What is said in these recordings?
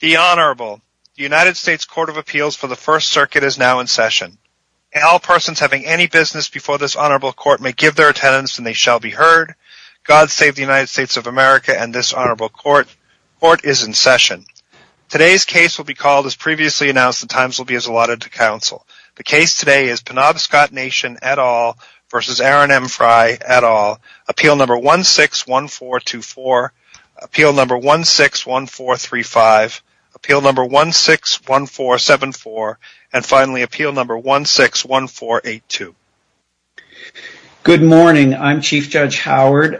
The Honorable United States Court of Appeals for the First Circuit is now in session. All persons having any business before this Honorable Court may give their attendance and they shall be heard. God save the United States of America and this Honorable Court. Court is in session. Today's case will be called as previously announced. The times will be as allotted to counsel. The case today is Penobscot Nation et al. v. Aaron M. Frey et al. Appeal No. 161424. Appeal No. 161435. Appeal No. 161474. And finally, Appeal No. 161482. Good morning. I'm Chief Judge Howard.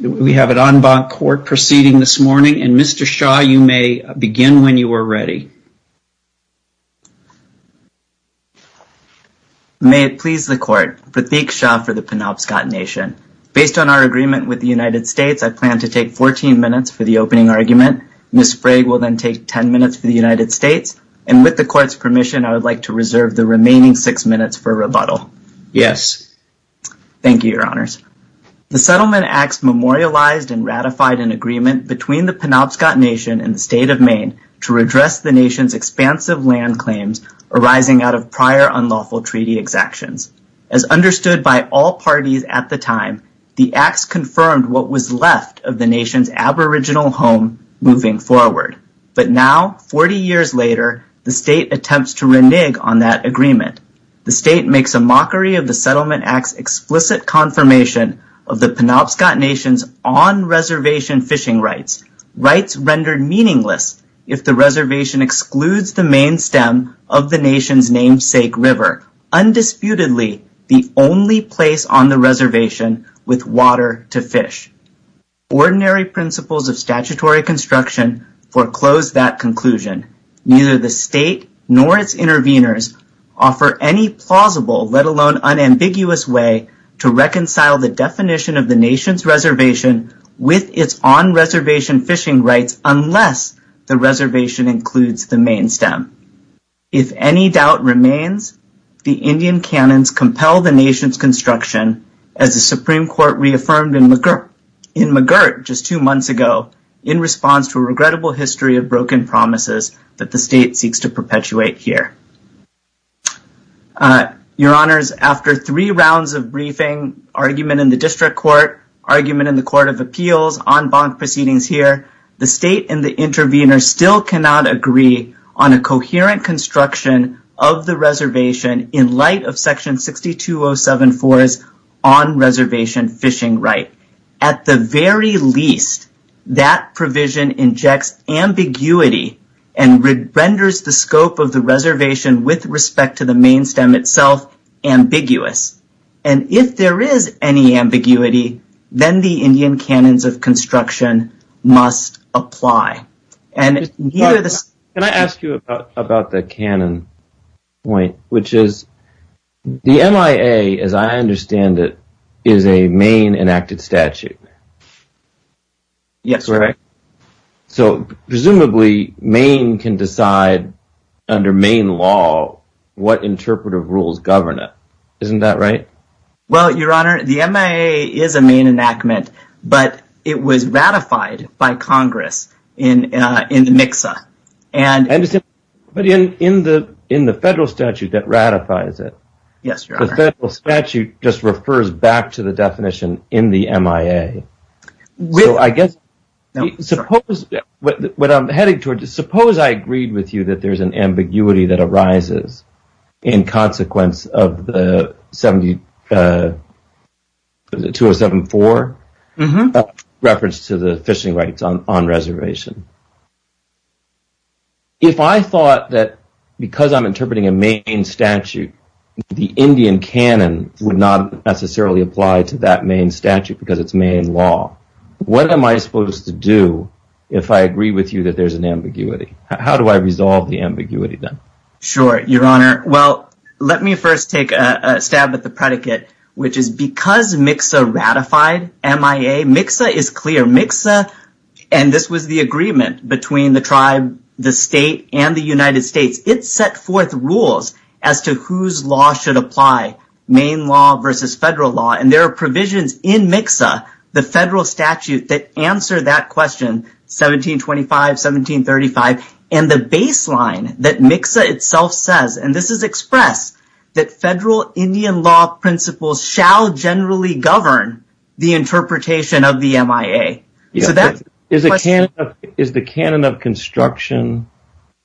We have an en banc court proceeding this morning. And Mr. Shaw, you may begin when you are ready. May it please the Court. The Beakshaw for the Penobscot Nation. Based on our agreement with the United States, I plan to take 14 minutes for the opening argument. Ms. Frey will then take 10 minutes for the United States. And with the Court's permission, I would like to reserve the remaining six minutes for rebuttal. Yes. Thank you, Your Honors. The settlement acts memorialized and ratified an agreement between the Penobscot Nation and the State of Maine to redress the Nation's expansive land claims arising out of prior unlawful treaty exactions. As understood by all parties at the time, the acts confirmed what was left of the Nation's aboriginal home moving forward. But now, 40 years later, the State attempts to renege on that agreement. The State makes a mockery of the Settlement Act's explicit confirmation of the Penobscot Nation's on-reservation fishing rights, rights rendered meaningless if the reservation excludes the main stem of the Nation's namesake river, undisputedly the only place on the reservation with water to fish. Ordinary principles of statutory construction foreclose that conclusion. Neither the State nor its intervenors offer any plausible, let alone unambiguous way, to reconcile the definition of the Nation's reservation with its on-reservation fishing rights unless the reservation includes the main stem. If any doubt remains, the Indian canons compel the Nation's construction, as the Supreme Court reaffirmed in McGirt just two months ago in response to a regrettable history of broken promises that the State seeks to perpetuate here. Your Honors, after three rounds of briefing, argument in the District Court, argument in the Court of Appeals, en banc proceedings here, the State and the intervenors still cannot agree on a coherent construction of the reservation in light of Section 62074's on-reservation fishing right. At the very least, that provision injects ambiguity and renders the scope of the reservation with respect to the main stem itself ambiguous. And if there is any ambiguity, then the Indian canons of construction must apply. Can I ask you about the canon point? Which is, the NIA, as I understand it, is a Maine enacted statute. Yes, correct. So, presumably Maine can decide, under Maine law, what interpretive rules govern it. Isn't that right? Well, Your Honor, the NIA is a Maine enactment, but it was ratified by Congress in Nixa. But in the federal statute that ratifies it. Yes, Your Honor. The federal statute just refers back to the definition in the NIA. So, I guess, suppose, what I'm heading towards, suppose I agreed with you that there's an ambiguity that arises in consequence of the 70, the 2074 reference to the fishing rights on reservation. If I thought that because I'm interpreting a Maine statute, the Indian canon would not necessarily apply to that Maine statute because it's Maine law. What am I supposed to do if I agree with you that there's an ambiguity? How do I resolve the ambiguity then? Sure, Your Honor. Well, let me first take a stab at the predicate, which is because Nixa ratified NIA, Nixa is clear. Nixa, and this was the agreement between the tribe, the state, and the United States. It set forth rules as to whose law should apply, Maine law versus federal law. And there are provisions in Nixa, the federal statute, that answer that question, 1725, 1735, and the baseline that Nixa itself says, and this is expressed, that federal Indian law principles shall generally govern the interpretation of the NIA. Is the canon of construction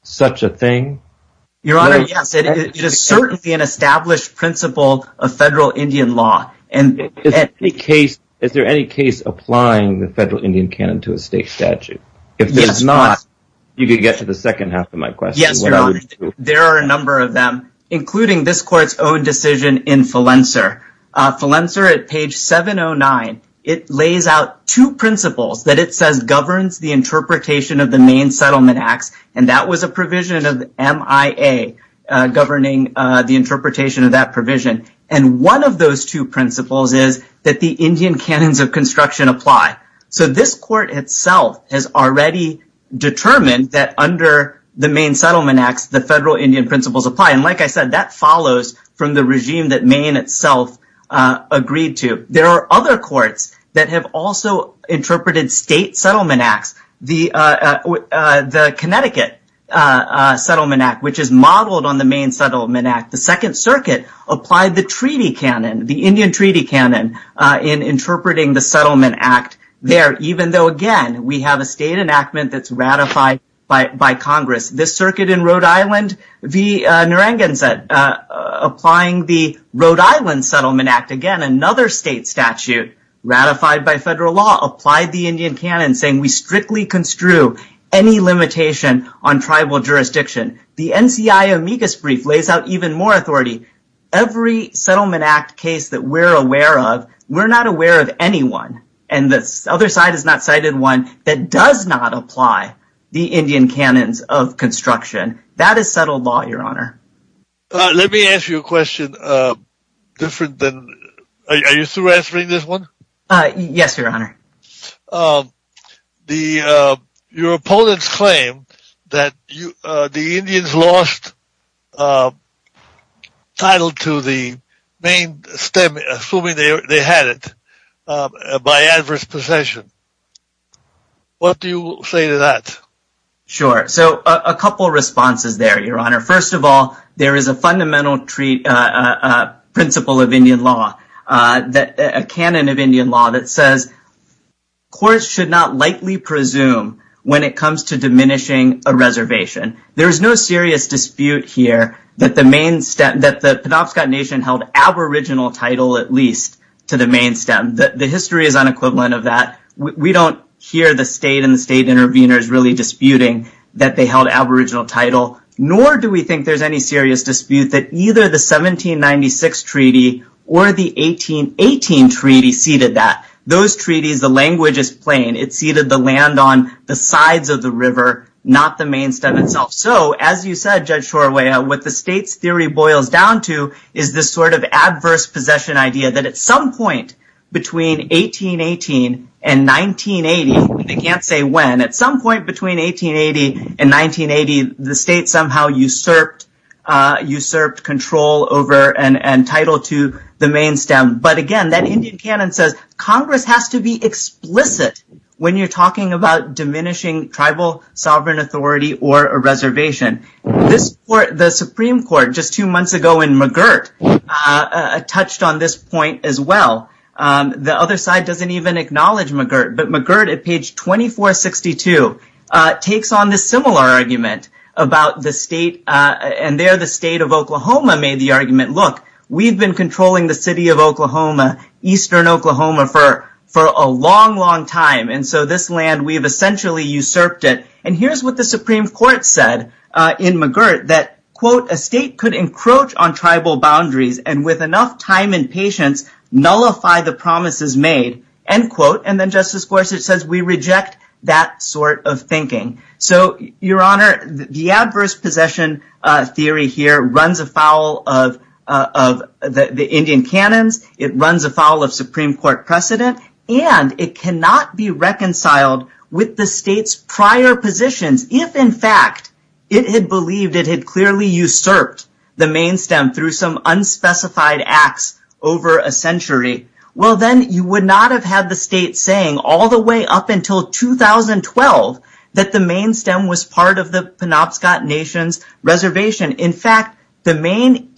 such a thing? Your Honor, yes. It is certainly an established principle of federal Indian law. Is there any case applying the federal Indian canon to a state statute? If there's not, you could get to the second half of my question. Yes, Your Honor. There are a number of them, including this court's own decision in Flenser. Flenser, at page 709, it lays out two principles that it says governs the interpretation of the Maine Settlement Act, and that was a provision of MIA governing the interpretation of that provision. And one of those two principles is that the Indian canons of construction apply. So this court itself has already determined that under the Maine Settlement Act, the federal Indian principles apply. And like I said, that follows from the regime that Maine itself agreed to. There are other courts that have also interpreted state settlement acts. The Connecticut Settlement Act, which is modeled on the Maine Settlement Act, the Second Circuit applied the treaty canon, the Indian treaty canon, in interpreting the Settlement Act there, even though, again, we have a state enactment that's ratified by Congress. The circuit in Rhode Island, the Narangansett, applying the Rhode Island Settlement Act, again, another state statute ratified by federal law, applied the Indian canon, saying we strictly construe any limitation on tribal jurisdiction. The NCI amicus brief lays out even more authority. Every settlement act case that we're aware of, we're not aware of anyone, and the other side has not cited one that does not apply the Indian canons of construction. That is federal law, Your Honor. Let me ask you a question different than – are you still answering this one? Yes, Your Honor. Your opponents claim that the Indians lost title to the Maine – assuming they had it – by adverse possession. What do you say to that? Sure. So a couple of responses there, Your Honor. First of all, there is a fundamental principle of Indian law, a canon of Indian law that says courts should not lightly presume when it comes to diminishing a reservation. There is no serious dispute here that the Penobscot Nation held aboriginal title at least to the Maine stem. The history is unequivalent of that. We don't hear the state and the state intervenors really disputing that they held aboriginal title, nor do we think there's any serious dispute that either the 1796 treaty or the 1818 treaty ceded that. Those treaties, the language is plain. It ceded the land on the sides of the river, not the Maine stem itself. So as you said, Judge Shorwaya, what the state's theory boils down to is this sort of adverse possession idea that at some point between 1818 and 1980 – I can't say when – but at some point between 1880 and 1980, the state somehow usurped control over and title to the Maine stem. But again, that Indian canon says Congress has to be explicit when you're talking about diminishing tribal sovereign authority or a reservation. The Supreme Court just two months ago in McGirt touched on this point as well. The other side doesn't even acknowledge McGirt, but McGirt at page 2462 takes on this similar argument about the state and there the state of Oklahoma made the argument, look, we've been controlling the city of Oklahoma, eastern Oklahoma for a long, long time, and so this land, we've essentially usurped it. And here's what the Supreme Court said in McGirt that, quote, a state could encroach on tribal boundaries and with enough time and patience nullify the promises made, end quote. And then Justice Gorsuch says we reject that sort of thinking. So, Your Honor, the adverse possession theory here runs afoul of the Indian canons, it runs afoul of Supreme Court precedent, and it cannot be reconciled with the state's prior positions if in fact it had believed it had clearly usurped the main stem through some unspecified acts over a century. Well, then you would not have had the state saying all the way up until 2012 that the main stem was part of the Penobscot Nation's reservation. In fact, the main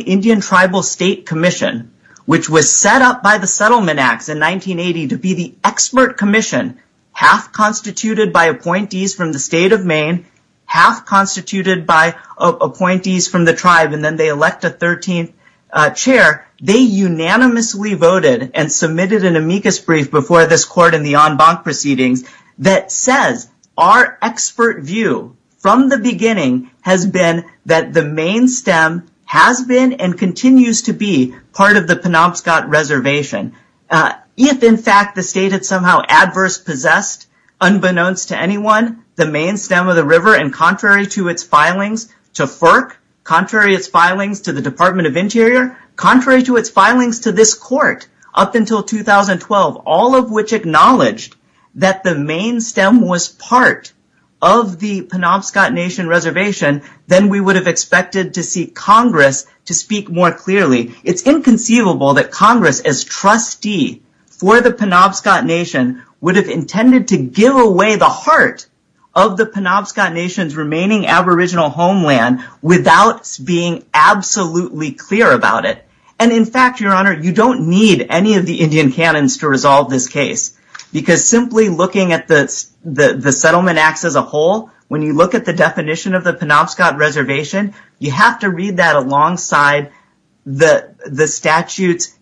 Indian Tribal State Commission, which was set up by the Settlement Act in 1980 to be the expert commission half constituted by appointees from the state of Maine, half constituted by appointees from the tribe, and then they elect a 13th chair, they unanimously voted and submitted an amicus brief before this court and the en banc proceedings that says our expert view from the beginning has been that the main stem has been and continues to be part of the Penobscot reservation. If in fact the state had somehow adverse possessed unbeknownst to anyone the main stem of the river and contrary to its filings to FERC, contrary to its filings to the Department of Interior, contrary to its filings to this court up until 2012, all of which acknowledged that the main stem was part of the Penobscot Nation reservation, then we would have expected to see Congress to speak more clearly. It's inconceivable that Congress as trustee for the Penobscot Nation would have intended to give away the heart of the Penobscot Nation's remaining aboriginal homeland without being absolutely clear about it. And in fact, Your Honor, you don't need any of the Indian canons to resolve this case because simply looking at the Settlement Act as a whole, when you look at the definition of the Penobscot reservation, you have to read that alongside the statute's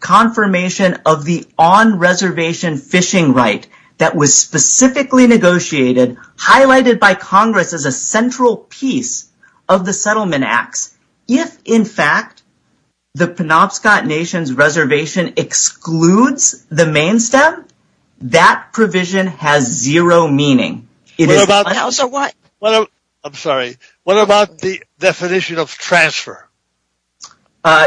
confirmation of the on-reservation fishing right that was specifically negotiated, highlighted by Congress as a central piece of the Settlement Act. If in fact the Penobscot Nation's reservation excludes the main stem, that provision has zero meaning. I'm sorry. What about the definition of transfer?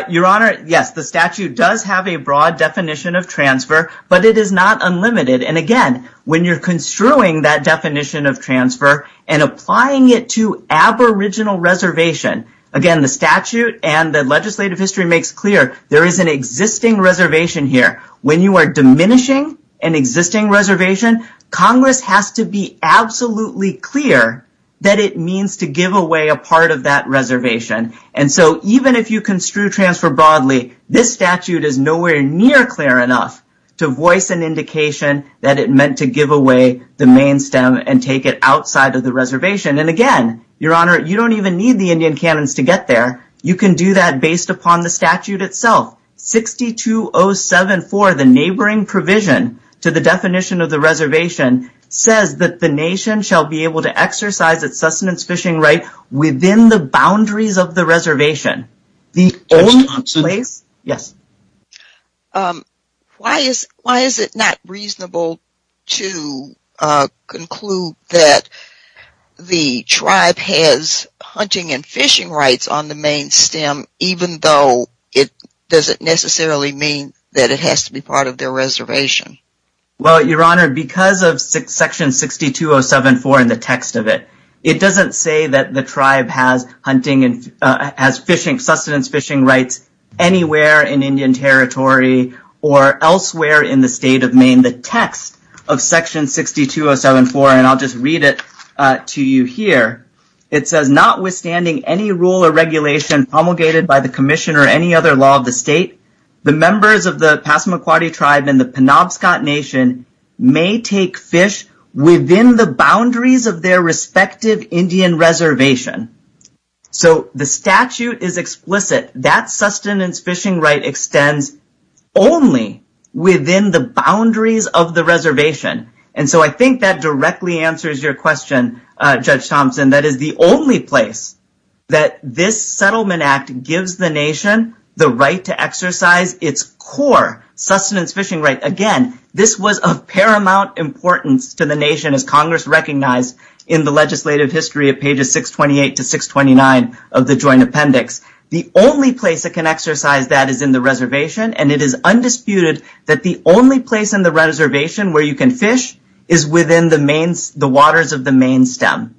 Your Honor, yes, the statute does have a broad definition of transfer, but it is not unlimited. And again, when you're construing that definition of transfer and applying it to aboriginal reservation, again, the statute and the legislative history makes clear there is an existing reservation here. When you are diminishing an existing reservation, Congress has to be absolutely clear that it means to give away a part of that reservation. And so even if you construe transfer broadly, this statute is nowhere near clear enough to voice an indication that it meant to give away the main stem and take it outside of the reservation. And again, Your Honor, you don't even need the Indian canons to get there. You can do that based upon the statute itself. 62074, the neighboring provision to the definition of the reservation, says that the nation shall be able to exercise its sustenance fishing right within the boundaries of the reservation. Why is it not reasonable to conclude that the tribe has hunting and fishing rights on the main stem, even though it doesn't necessarily mean that it has to be part of their reservation? Well, Your Honor, because of section 62074 in the text of it, it doesn't say that the tribe has hunting and has sustenance fishing rights anywhere in Indian territory or elsewhere in the state of Maine. The text of section 62074, and I'll just read it to you here, it says notwithstanding any rule or regulation promulgated by the commission or any other law of the state, the members of the Passamaquoddy tribe and the Penobscot Nation may take fish within the boundaries of their respective Indian reservation. So the statute is explicit. That sustenance fishing right extends only within the boundaries of the reservation. And so I think that directly answers your question, Judge Thompson. That is the only place that this settlement act gives the nation the right to exercise its core sustenance fishing right. Again, this was of paramount importance to the nation, as Congress recognized, in the legislative history of pages 628 to 629 of the Joint Appendix. The only place it can exercise that is in the reservation, and it is undisputed that the only place in the reservation where you can fish is within the waters of the main stem.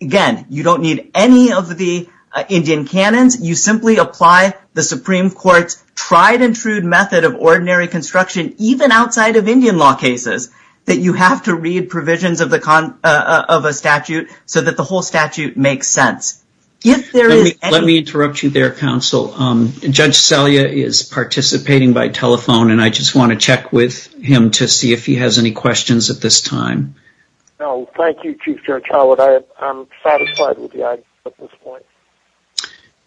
Again, you don't need any of the Indian canons. You simply apply the Supreme Court's tried-and-true method of ordinary construction, even outside of Indian law cases, that you have to read provisions of a statute so that the whole statute makes sense. Let me interrupt you there, counsel. Judge Selye is participating by telephone, and I just want to check with him to see if he has any questions at this time. No, thank you, Chief Judge Howard. I'm satisfied with the idea at this point.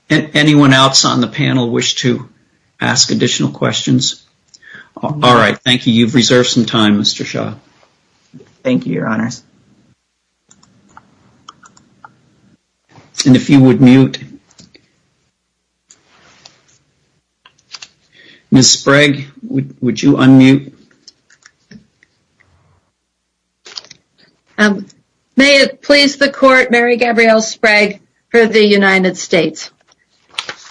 Anyone else on the panel wish to ask additional questions? All right, thank you. You've reserved some time, Mr. Shaw. And if you would mute. Ms. Sprague, would you unmute? May it please the Court, Mary Gabrielle Sprague for the United States.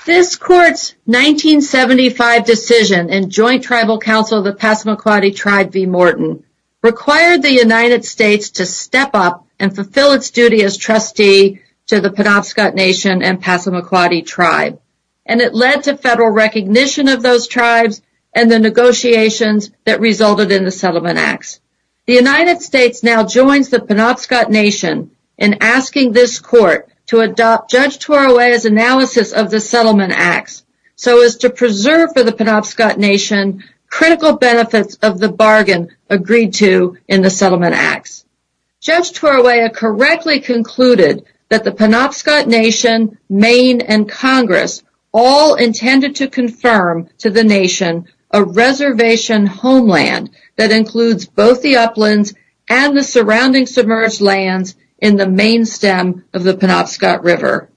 This Court's 1975 decision in Joint Tribal Council of the Passamaquoddy Tribe v. Morton required the United States to step up and fulfill its duty as trustee to the Penobscot Nation and Passamaquoddy Tribe, and it led to federal recognition of those tribes and the negotiations that resulted in the Settlement Acts. The United States now joins the Penobscot Nation in asking this Court to adopt Judge Turoea's analysis of the Settlement Acts so as to preserve for the Penobscot Nation critical benefits of the bargain agreed to in the Settlement Acts. Judge Turoea correctly concluded that the Penobscot Nation, Maine, and Congress all intended to confirm to the Nation a reservation homeland that includes both the uplands and the surrounding submerged lands in the main stem of the Penobscot River.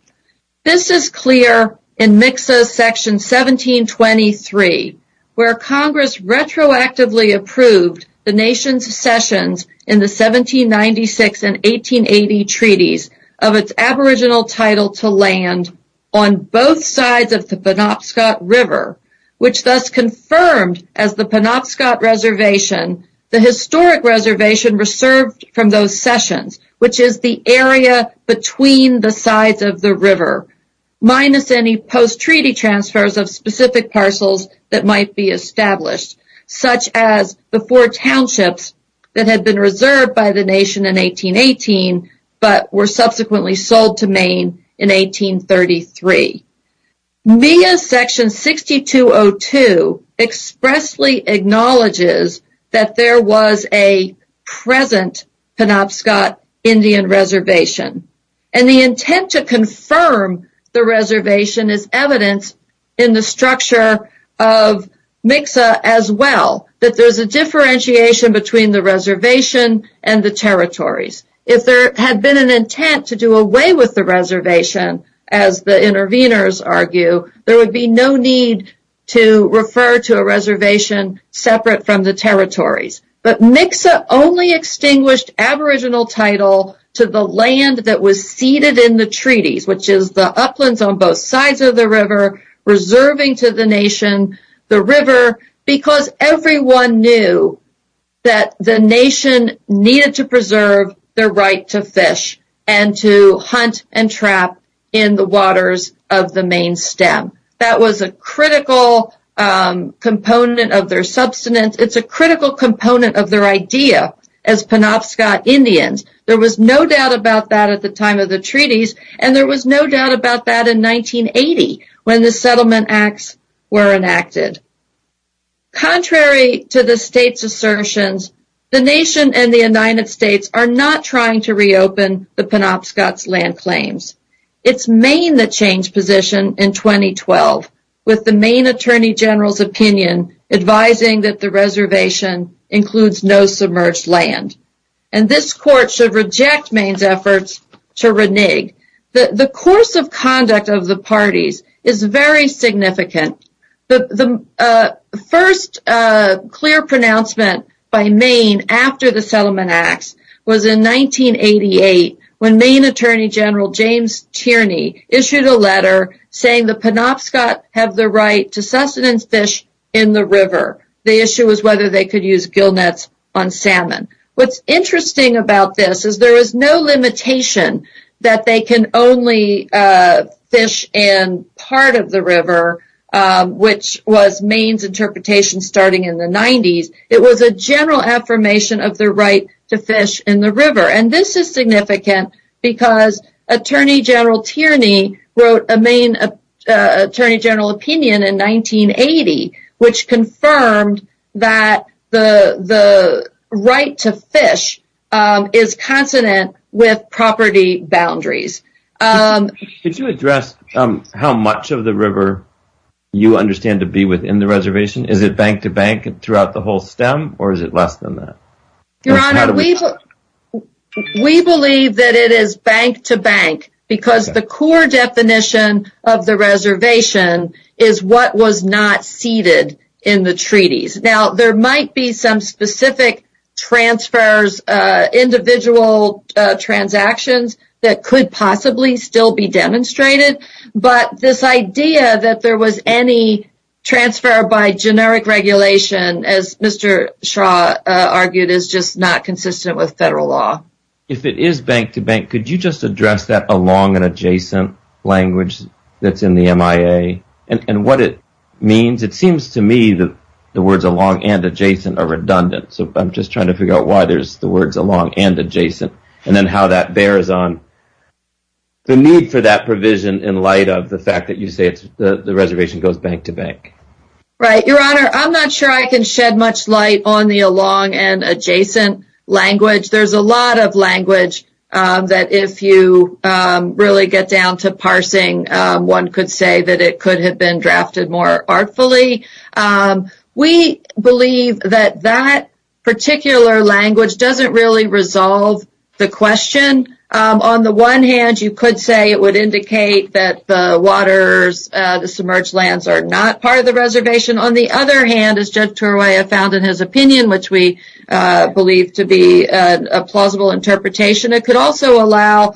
This is clear in Mixo Section 1723, where Congress retroactively approved the Nation's accessions in the 1796 and 1880 treaties of its aboriginal title to land on both sides of the Penobscot River, which thus confirmed as the Penobscot Reservation the historic reservation reserved from those areas between the sides of the river, minus any post-treaty transfers of specific parcels that might be established, such as the four townships that had been reserved by the Nation in 1818 but were subsequently sold to Maine in 1833. MIA Section 6202 expressly acknowledges that there was a present Penobscot Indian Reservation, and the intent to confirm the reservation is evident in the structure of Mixo as well, that there's a differentiation between the reservation and the territories. If there had been an intent to do away with the reservation, as the interveners argue, there would be no need to refer to a reservation separate from the territories. But Mixo only extinguished aboriginal title to the land that was ceded in the treaties, which is the uplands on both sides of the river, preserving to the Nation the river, because everyone knew that the Nation needed to preserve their right to fish and to hunt and trap in the waters of the Maine stem. That was a critical component of their substance. It's a critical component of their idea as Penobscot Indians. There was no doubt about that at the time of the treaties, and there was no doubt about that in 1980 when the Settlement Acts were enacted. Contrary to the state's assertions, the Nation and the United States are not trying to reopen the Penobscot's land claims. It's Maine that changed position in 2012 with the Maine Attorney General's opinion advising that the reservation includes no submerged land. And this court should reject Maine's efforts to renege. The course of conduct of the parties is very significant. The first clear pronouncement by Maine after the Settlement Acts was in 1988 when Maine Attorney General James Tierney issued a letter saying the Penobscot have the right to What's interesting about this is there is no limitation that they can only fish in part of the river, which was Maine's interpretation starting in the 90s. It was a general affirmation of their right to fish in the river. And this is significant because Attorney General Tierney wrote a Maine Attorney General opinion in 1980 which confirmed that the right to fish is consonant with property boundaries. Could you address how much of the river you understand to be within the reservation? Is it bank to bank throughout the whole stem, or is it less than that? Your Honor, we believe that it is bank to bank because the core definition of the reservation is what was not ceded in the treaties. Now, there might be some specific transfers, individual transactions that could possibly still be demonstrated, but this idea that there was any transfer by generic regulation, as Mr. Shaw argued, is just not consistent with federal law. If it is bank to bank, could you just address that along and adjacent language that's in the MIA and what it means? It seems to me that the words along and adjacent are redundant, so I'm just trying to figure out why there's the words along and adjacent and then how that bears on the need for that provision in light of the fact that you say the reservation goes bank to bank. Right. Your Honor, I'm not sure I can shed much light on the along and adjacent language. There's a lot of language that if you really get down to parsing, one could say that it could have been drafted more artfully. We believe that that particular language doesn't really resolve the question. On the one hand, you could say it would indicate that the waters, the submerged lands are not part of the reservation. On the other hand, as Judge Turwaya found in his opinion, which we believe to be a plausible interpretation, it could also allow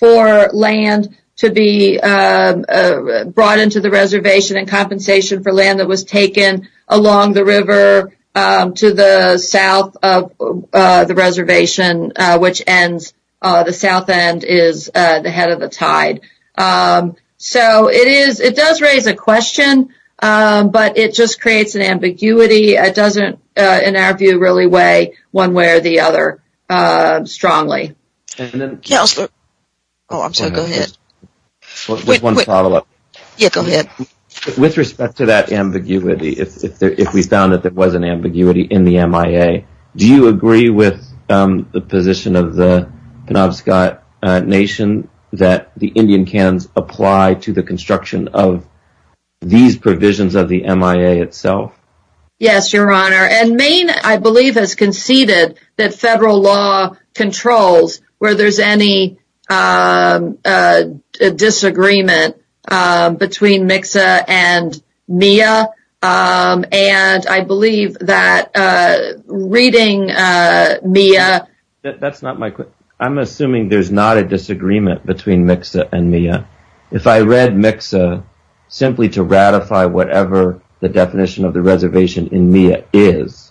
for land to be brought into the reservation in compensation for land that was taken along the river to the south of the reservation, which ends, the south end is the head of the tide. It does raise a question, but it just creates an ambiguity. It doesn't, in our view, really weigh one way or the other strongly. With respect to that ambiguity, if we found that there was an ambiguity in the MIA, do you agree with the position of the Penobscot Nation that the Indian Cans apply to the construction of these provisions of the MIA itself? Yes, Your Honor. Maine, I believe, has conceded that federal law controls where there's any disagreement between Mixa and MIA. I believe that reading MIA… That's not my question. I'm assuming there's not a disagreement between Mixa and MIA. If I read Mixa simply to ratify whatever the definition of the reservation in MIA is,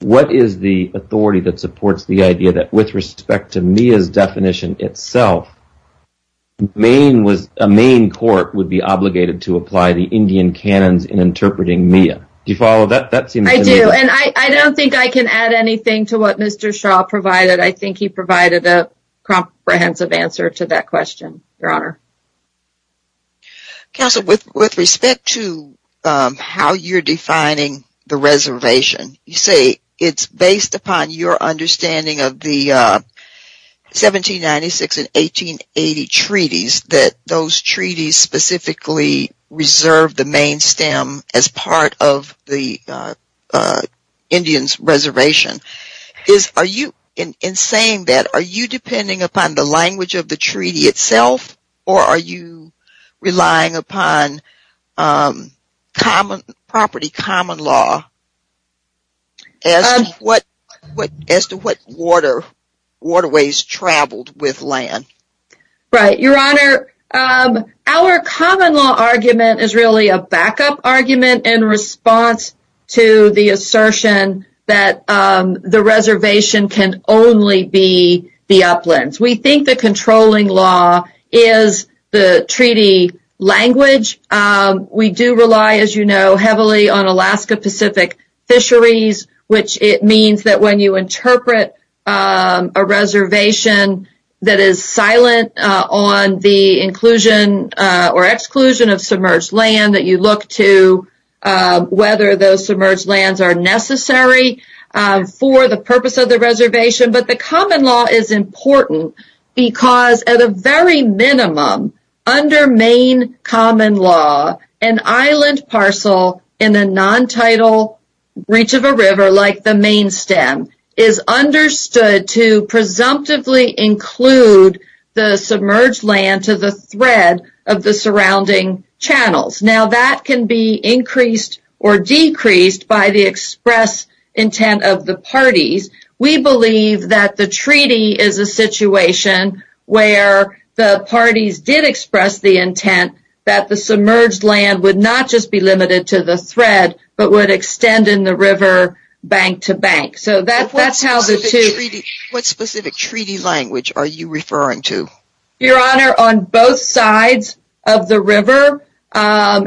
what is the authority that supports the idea that with respect to MIA's definition itself, a Maine court would be obligated to apply the Indian Canons in interpreting MIA? Do you follow that? I do, and I don't think I can add anything to what Mr. Shaw provided. I think he provided a comprehensive answer to that question, Your Honor. Counsel, with respect to how you're defining the reservation, you say it's based upon your understanding of the 1796 and 1880 treaties, that those treaties specifically reserve the Maine stem as part of the Indians' reservation. In saying that, are you depending upon the language of the treaty itself, or are you relying upon property common law as to what waterways traveled with land? Right. Your Honor, our common law argument is really a backup argument in response to the assertion that the reservation can only be the uplands. We think the controlling law is the treaty language. We do rely, as you know, heavily on Alaska Pacific fisheries, which it means that when you interpret a reservation that is silent on the inclusion or exclusion of submerged land, that you look to whether those submerged lands are necessary for the purpose of the reservation. But the common law is important because, at a very minimum, under Maine common law, an island parcel in a non-title reach of a river, like the Maine stem, is understood to presumptively include the submerged land to the thread of the surrounding channels. Now, that can be increased or decreased by the express intent of the parties. We believe that the treaty is a situation where the parties did express the intent that the submerged land would not just be limited to the thread, but would extend in the river bank to bank. So that's how the treaty— What specific treaty language are you referring to?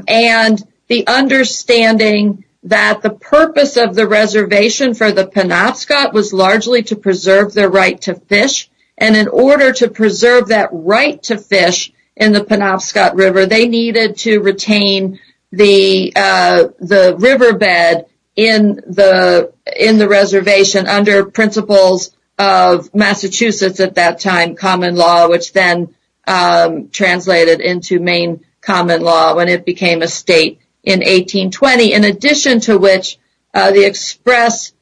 and the understanding that the purpose of the reservation for the Penobscot was largely to preserve their right to fish. And in order to preserve that right to fish in the Penobscot River, they needed to retain the riverbed in the reservation under principles of Massachusetts, at that time, common law, which then translated into Maine common law when it became a state in 1820, in addition to which the express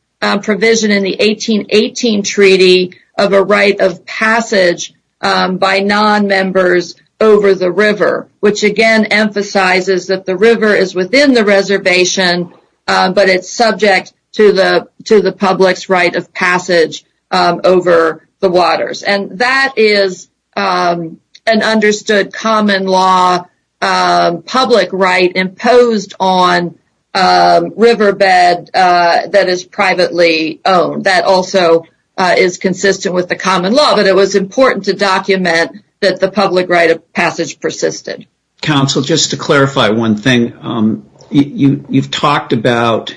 provision in the 1818 treaty of a right of passage by non-members over the river, which again emphasizes that the river is within the reservation, but it's subject to the public's right of passage over the waters. And that is an understood common law public right imposed on riverbed that is privately owned. That also is consistent with the common law, but it was important to document that the public right of passage persisted. Council, just to clarify one thing. You've talked about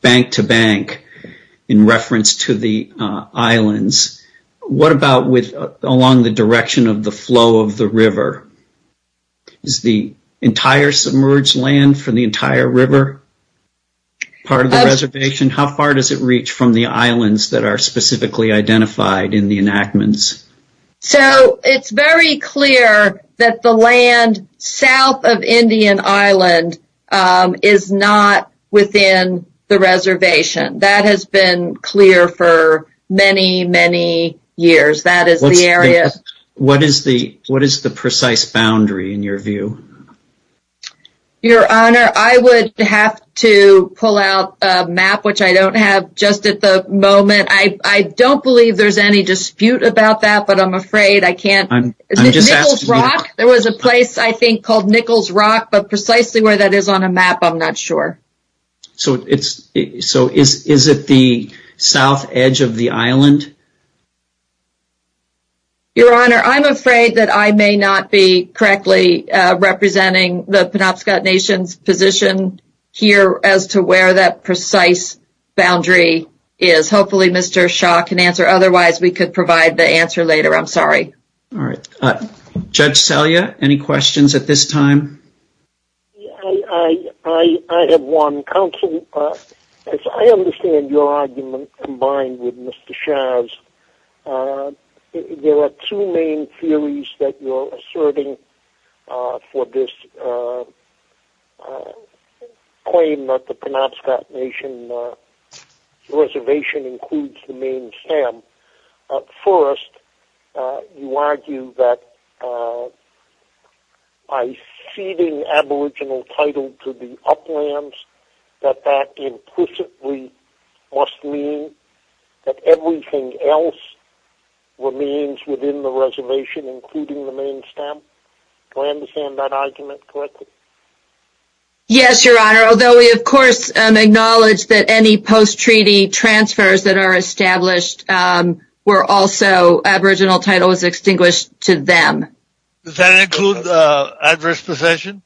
bank to bank in reference to the islands. What about along the direction of the flow of the river? Is the entire submerged land from the entire river part of the reservation? How far does it reach from the islands that are specifically identified in the enactments? So it's very clear that the land south of Indian Island is not within the reservation. That has been clear for many, many years. That is the area. What is the precise boundary in your view? Your Honor, I would have to pull out a map, which I don't have just at the moment. I don't believe there's any dispute about that, but I'm afraid I can't. Nichols Rock, there was a place I think called Nichols Rock, but precisely where that is on a map, I'm not sure. So is it the south edge of the island? Your Honor, I'm afraid that I may not be correctly representing the Penobscot Nation's position here as to where that precise boundary is. Hopefully Mr. Shah can answer. Otherwise, we could provide the answer later. I'm sorry. All right. Judge Talia, any questions at this time? I have one. Counsel, as I understand your argument combined with Mr. Shah's, there are two main theories that you're asserting for this claim that the Penobscot Nation reservation includes the main stem. First, you argue that by ceding aboriginal title to the uplands, that that implicitly must mean that everything else remains within the reservation, including the main stem. Do I understand that argument correctly? Yes, Your Honor, although we of course acknowledge that any post-treaty transfers that are established were also aboriginal titles extinguished to them. Does that include adverse possession?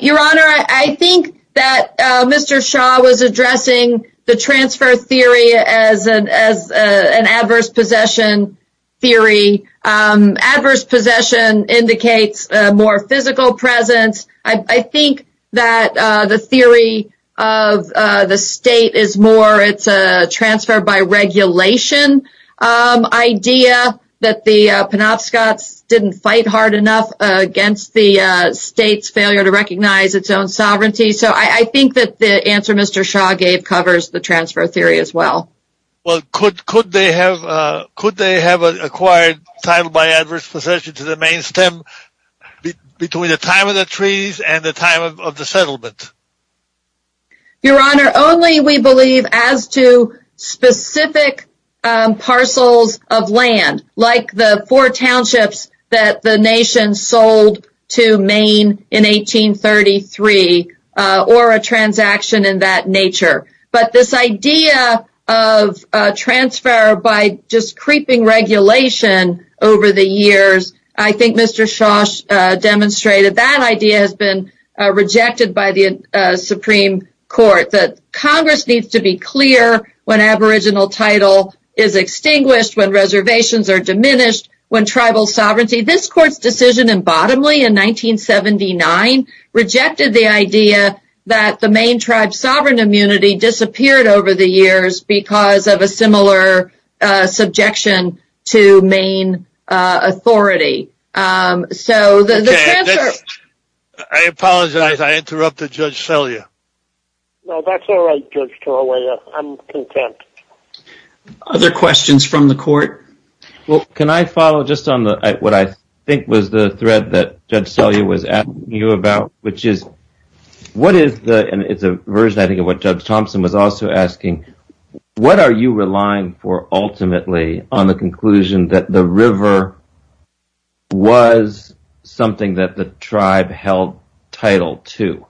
Your Honor, I think that Mr. Shah was addressing the transfer theory as an adverse possession theory. Adverse possession indicates a more physical presence. I think that the theory of the state is more it's a transfer by regulation idea, that the Penobscots didn't fight hard enough against the state's failure to recognize its own sovereignty. So I think that the answer Mr. Shah gave covers the transfer theory as well. Could they have acquired title by adverse possession to the main stem between the time of the treaties and the time of the settlement? Your Honor, only we believe as to specific parcels of land, like the four townships that the nation sold to Maine in 1833, or a transaction in that nature. But this idea of transfer by just creeping regulation over the years, I think Mr. Shah demonstrated that idea has been rejected by the Supreme Court. That Congress needs to be clear when aboriginal title is extinguished, when reservations are diminished, when tribal sovereignty. This Court's decision in Bottomley in 1979 rejected the idea that the Maine tribe's sovereign immunity disappeared over the years because of a similar subjection to Maine authority. I apologize, I interrupted Judge Torellia. That's all right, Judge Torellia. I'm content. Other questions from the Court? Well, can I follow just on what I think was the thread that Judge Torellia was asking you about? Which is, what is the, and it's a version I think of what Judge Thompson was also asking, what are you relying for ultimately on the conclusion that the river was something that the tribe held title to?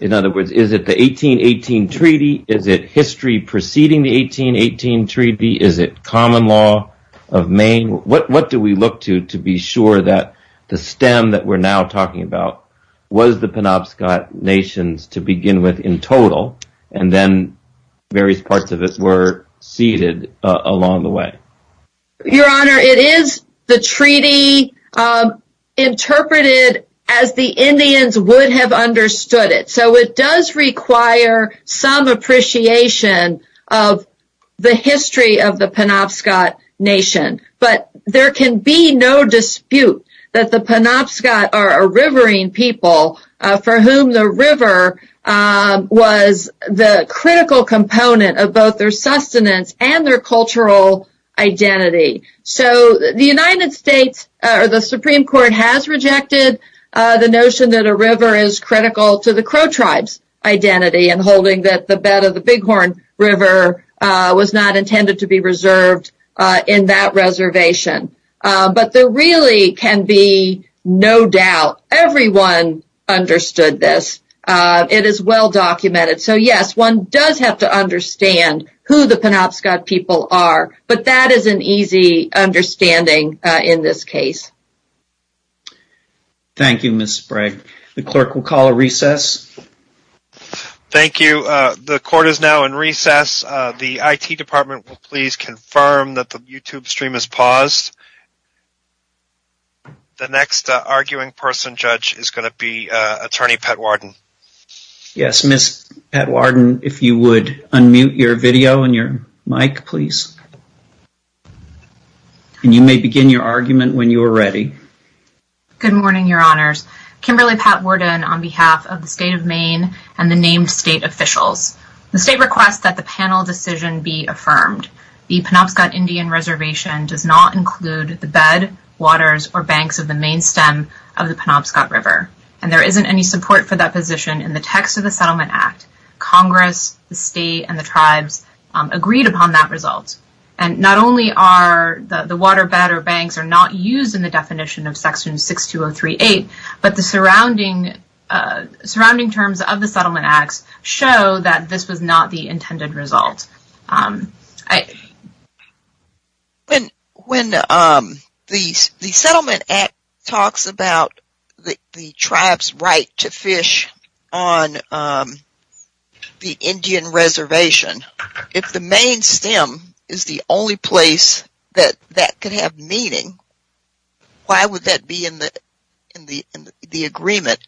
In other words, is it the 1818 Treaty? Is it history preceding the 1818 Treaty? Is it common law of Maine? What do we look to to be sure that the stem that we're now talking about was the Penobscot Nations to begin with in total, and then various parts of it were ceded along the way? Your Honor, it is the treaty interpreted as the Indians would have understood it. So it does require some appreciation of the history of the Penobscot Nation. But there can be no dispute that the Penobscot are a riverine people for whom the river was the critical component of both their sustenance and their cultural identity. So the United States, or the Supreme Court, has rejected the notion that a river is critical to the Crow tribe's identity, and holding that the bed of the Bighorn River was not intended to be reserved in that reservation. But there really can be no doubt, everyone understood this. It is well documented. So yes, one does have to understand who the Penobscot people are, but that is an easy understanding in this case. Thank you, Ms. Sprague. The clerk will call a recess. Thank you. The court is now in recess. The IT department will please confirm that the YouTube stream is paused. The next arguing person, Judge, is going to be Attorney Pett Warden. Yes, Ms. Pett Warden, if you would unmute your video and your mic, please. And you may begin your argument when you are ready. Good morning, Your Honors. Kimberly Pett Warden on behalf of the state of Maine and the named state officials. The state requests that the panel decision be affirmed. The Penobscot Indian Reservation does not include the bed, waters, or banks of the main stem of the Penobscot River. And there isn't any support for that position in the text of the Settlement Act. Congress, the state, and the tribes agreed upon that result. And not only are the water, bed, or banks are not used in the definition of Section 62038, but the surrounding terms of the Settlement Act show that this is not the intended result. When the Settlement Act talks about the tribes' right to fish on the Indian Reservation, if the main stem is the only place that that could have meaning, why would that be in the agreement?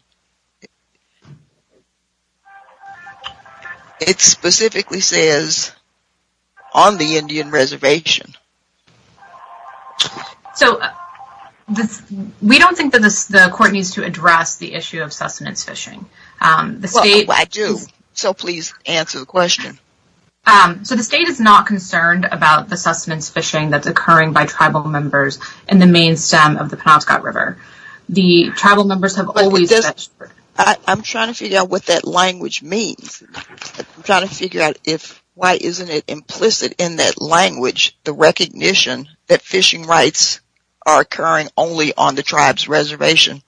It specifically says, on the Indian Reservation. So, we don't think that the court needs to address the issue of sustenance fishing. Well, I do. So, please answer the question. So, the state is not concerned about the sustenance fishing that's occurring by tribal members in the main stem of the Penobscot River. I'm trying to figure out what that language means. I'm trying to figure out why isn't it implicit in that language, the recognition that fishing rights are occurring only on the tribes' reservation.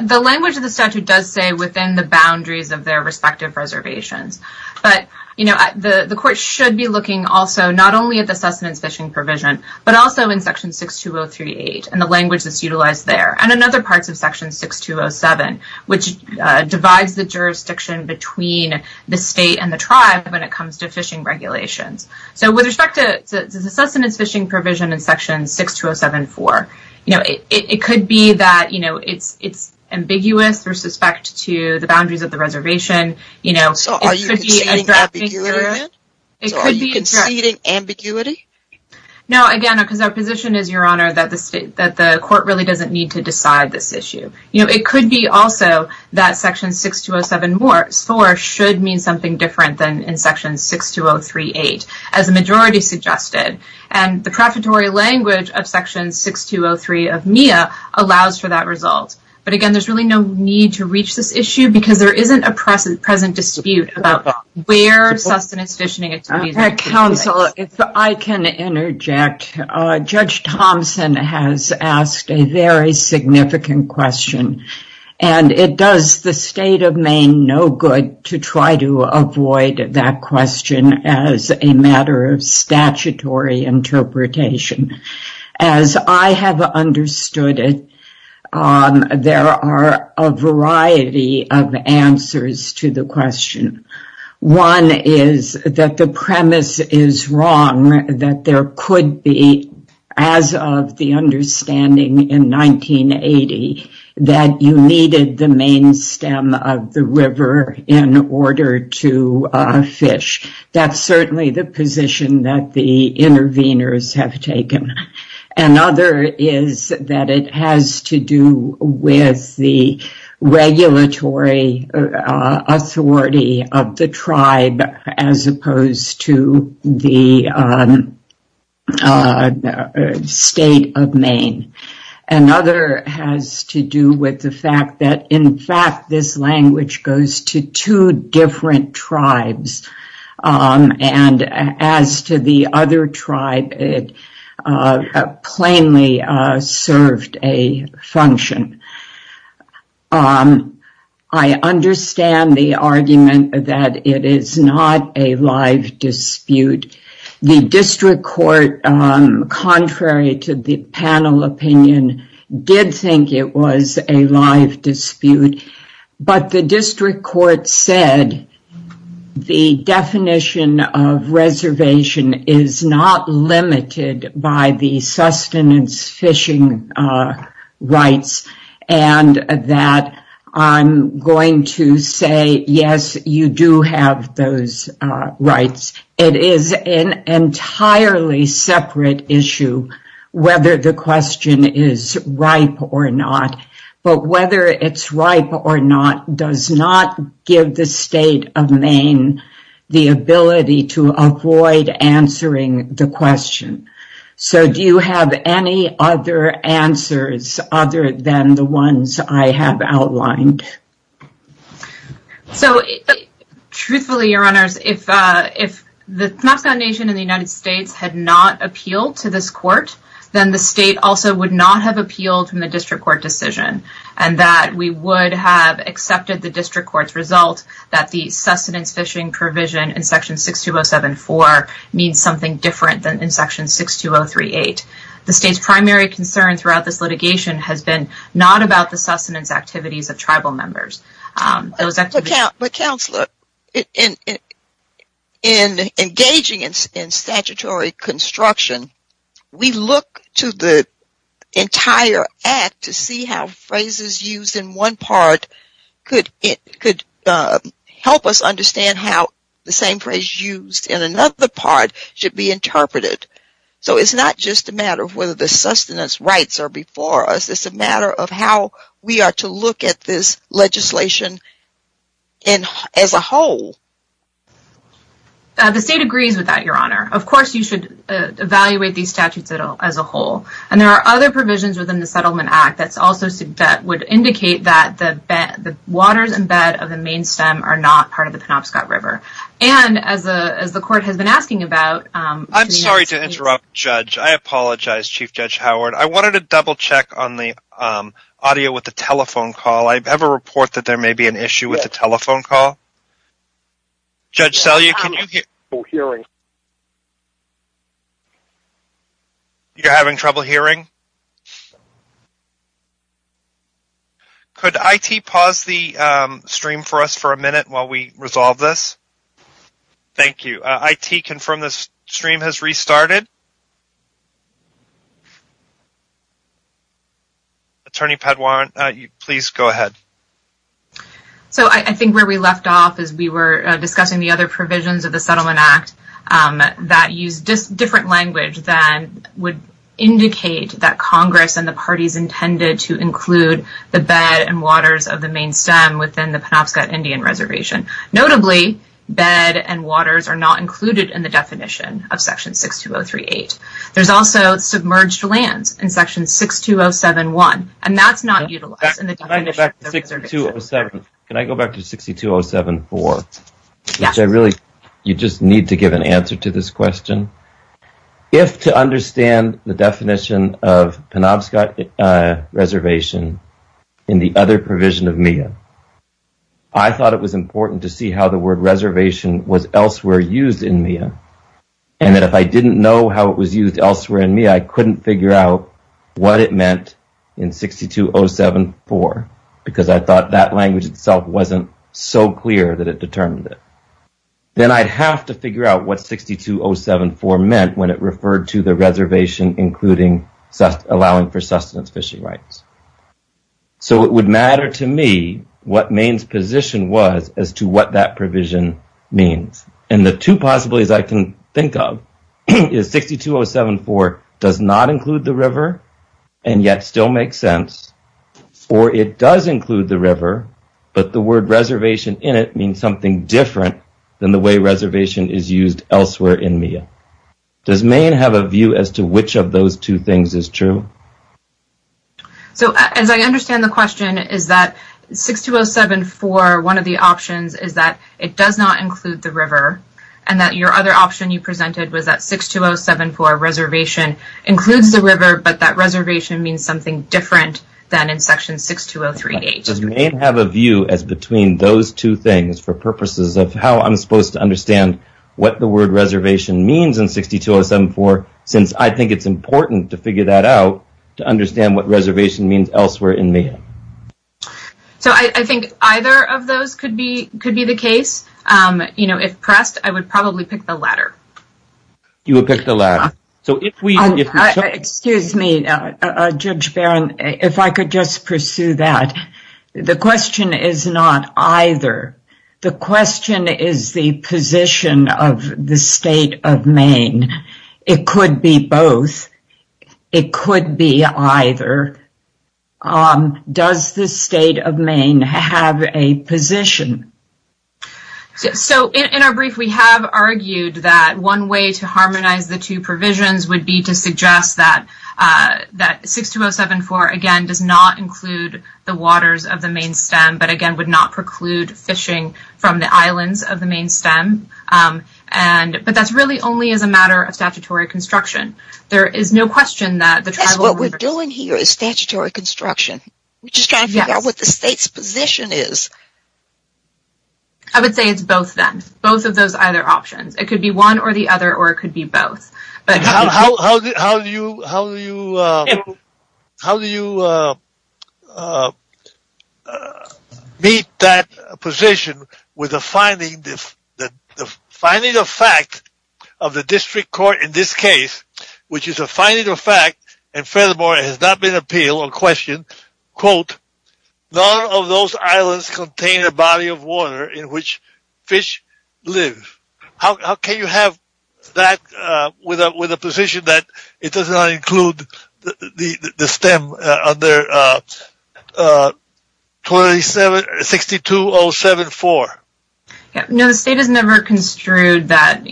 The language of the statute does say within the boundaries of their respective reservations. But, you know, the court should be looking also not only at the sustenance fishing provision, but also in Section 62038 and the language that's utilized there, and in other parts of Section 6207, which divides the jurisdiction between the state and the tribe when it comes to fishing regulations. So, with respect to the sustenance fishing provision in Section 62074, you know, it could be that, you know, it's ambiguous or suspect to the boundaries of the reservation. So, are you interpreting ambiguity? No, again, because our position is, Your Honor, that the court really doesn't need to decide this issue. You know, it could be also that Section 62074 should mean something different than in Section 62038, as the majority suggested. And the preparatory language of Section 6203 of MIA allows for that result. But, again, there's really no need to reach this issue because there isn't a present dispute about where sustenance fishing is occurring. Counsel, if I can interject, Judge Thompson has asked a very significant question, and it does the State of Maine no good to try to avoid that question as a matter of statutory interpretation. As I have understood it, there are a variety of answers to the question. One is that the premise is wrong, that there could be, as of the understanding in 1980, that you needed the main stem of the river in order to fish. That's certainly the position that the interveners have taken. Another is that it has to do with the regulatory authority of the tribe, as opposed to the State of Maine. Another has to do with the fact that, in fact, this language goes to two different tribes. And as to the other tribe, it plainly served a function. I understand the argument that it is not a live dispute. The district court, contrary to the panel opinion, did think it was a live dispute. But the district court said the definition of reservation is not limited by the sustenance fishing rights, and that I'm going to say, yes, you do have those rights. It is an entirely separate issue whether the question is ripe or not. But whether it's ripe or not does not give the State of Maine the ability to avoid answering the question. So do you have any other answers other than the ones I have outlined? So, truthfully, Your Honors, if the Smith Foundation in the United States had not appealed to this court, then the State also would not have appealed in the district court decision, and that we would have accepted the district court's result that the sustenance fishing provision in Section 62074 means something different than in Section 62038. The State's primary concern throughout this litigation has been not about the sustenance activities of tribal members. But, Counselor, in engaging in statutory construction, we look to the entire act to see how phrases used in one part could help us understand how the same phrase used in another part should be interpreted. So it's not just a matter of whether the sustenance rights are before us. It's a matter of how we are to look at this legislation as a whole. The State agrees with that, Your Honor. Of course, you should evaluate these statutes as a whole. And there are other provisions within the Settlement Act that would indicate that the waters and bed of the Maine Stem are not part of the Penobscot River. I'm sorry to interrupt, Judge. I apologize, Chief Judge Howard. I wanted to double-check on the audio with the telephone call. I have a report that there may be an issue with the telephone call. Judge Selye, can you hear me? You're having trouble hearing? Could IT pause the stream for us for a minute while we resolve this? Thank you. IT, confirm this stream has restarted? Attorney Paduan, please go ahead. So I think where we left off is we were discussing the other provisions of the Settlement Act that use different language that would indicate that Congress and the parties intended to include the bed and waters of the Maine Stem within the Penobscot Indian Reservation. Notably, bed and waters are not included in the definition of Section 62038. There's also submerged lands in Section 62071, and that's not utilized in the definition of the reservation. Can I go back to 62074? You just need to give an answer to this question. If, to understand the definition of Penobscot reservation in the other provision of MEA, I thought it was important to see how the word reservation was elsewhere used in MEA, and that if I didn't know how it was used elsewhere in MEA, I couldn't figure out what it meant in 62074 because I thought that language itself wasn't so clear that it determined it. Then I have to figure out what 62074 meant when it referred to the reservation including allowing for sustenance fishing rights. So it would matter to me what Maine's position was as to what that provision means. And the two possibilities I can think of is 62074 does not include the river and yet still makes sense, or it does include the river, but the word reservation in it means something different than the way reservation is used elsewhere in MEA. Does Maine have a view as to which of those two things is true? So as I understand the question, is that 62074, one of the options is that it does not include the river, and that your other option you presented was that 62074, reservation, includes the river, but that reservation means something different than in section 62038. Does Maine have a view as between those two things for purposes of how I'm supposed to understand what the word reservation means in 62074 since I think it's important to figure that out to understand what reservation means elsewhere in MEA? So I think either of those could be the case. If pressed, I would probably pick the latter. You would pick the latter. Excuse me, Judge Barron, if I could just pursue that. The question is not either. The question is the position of the state of Maine. It could be both. It could be either. Does the state of Maine have a position? So in our brief, we have argued that one way to harmonize the two provisions would be to suggest that 62074, again, does not include the waters of the Maine stem, but again, would not preclude fishing from the islands of the Maine stem. But that's really only as a matter of statutory construction. There is no question that the tribal... What we're doing here is statutory construction. We're just trying to figure out what the state's position is. I would say it's both then. Both of those are either options. It could be one or the other, or it could be both. How do you meet that position with the finding of fact of the district court in this case, which is a finding of fact, and furthermore, it has not been appealed or questioned, quote, none of those islands contain a body of water in which fish live. How can you have that with a position that it does not include the stem under 62074? No, the state has never construed that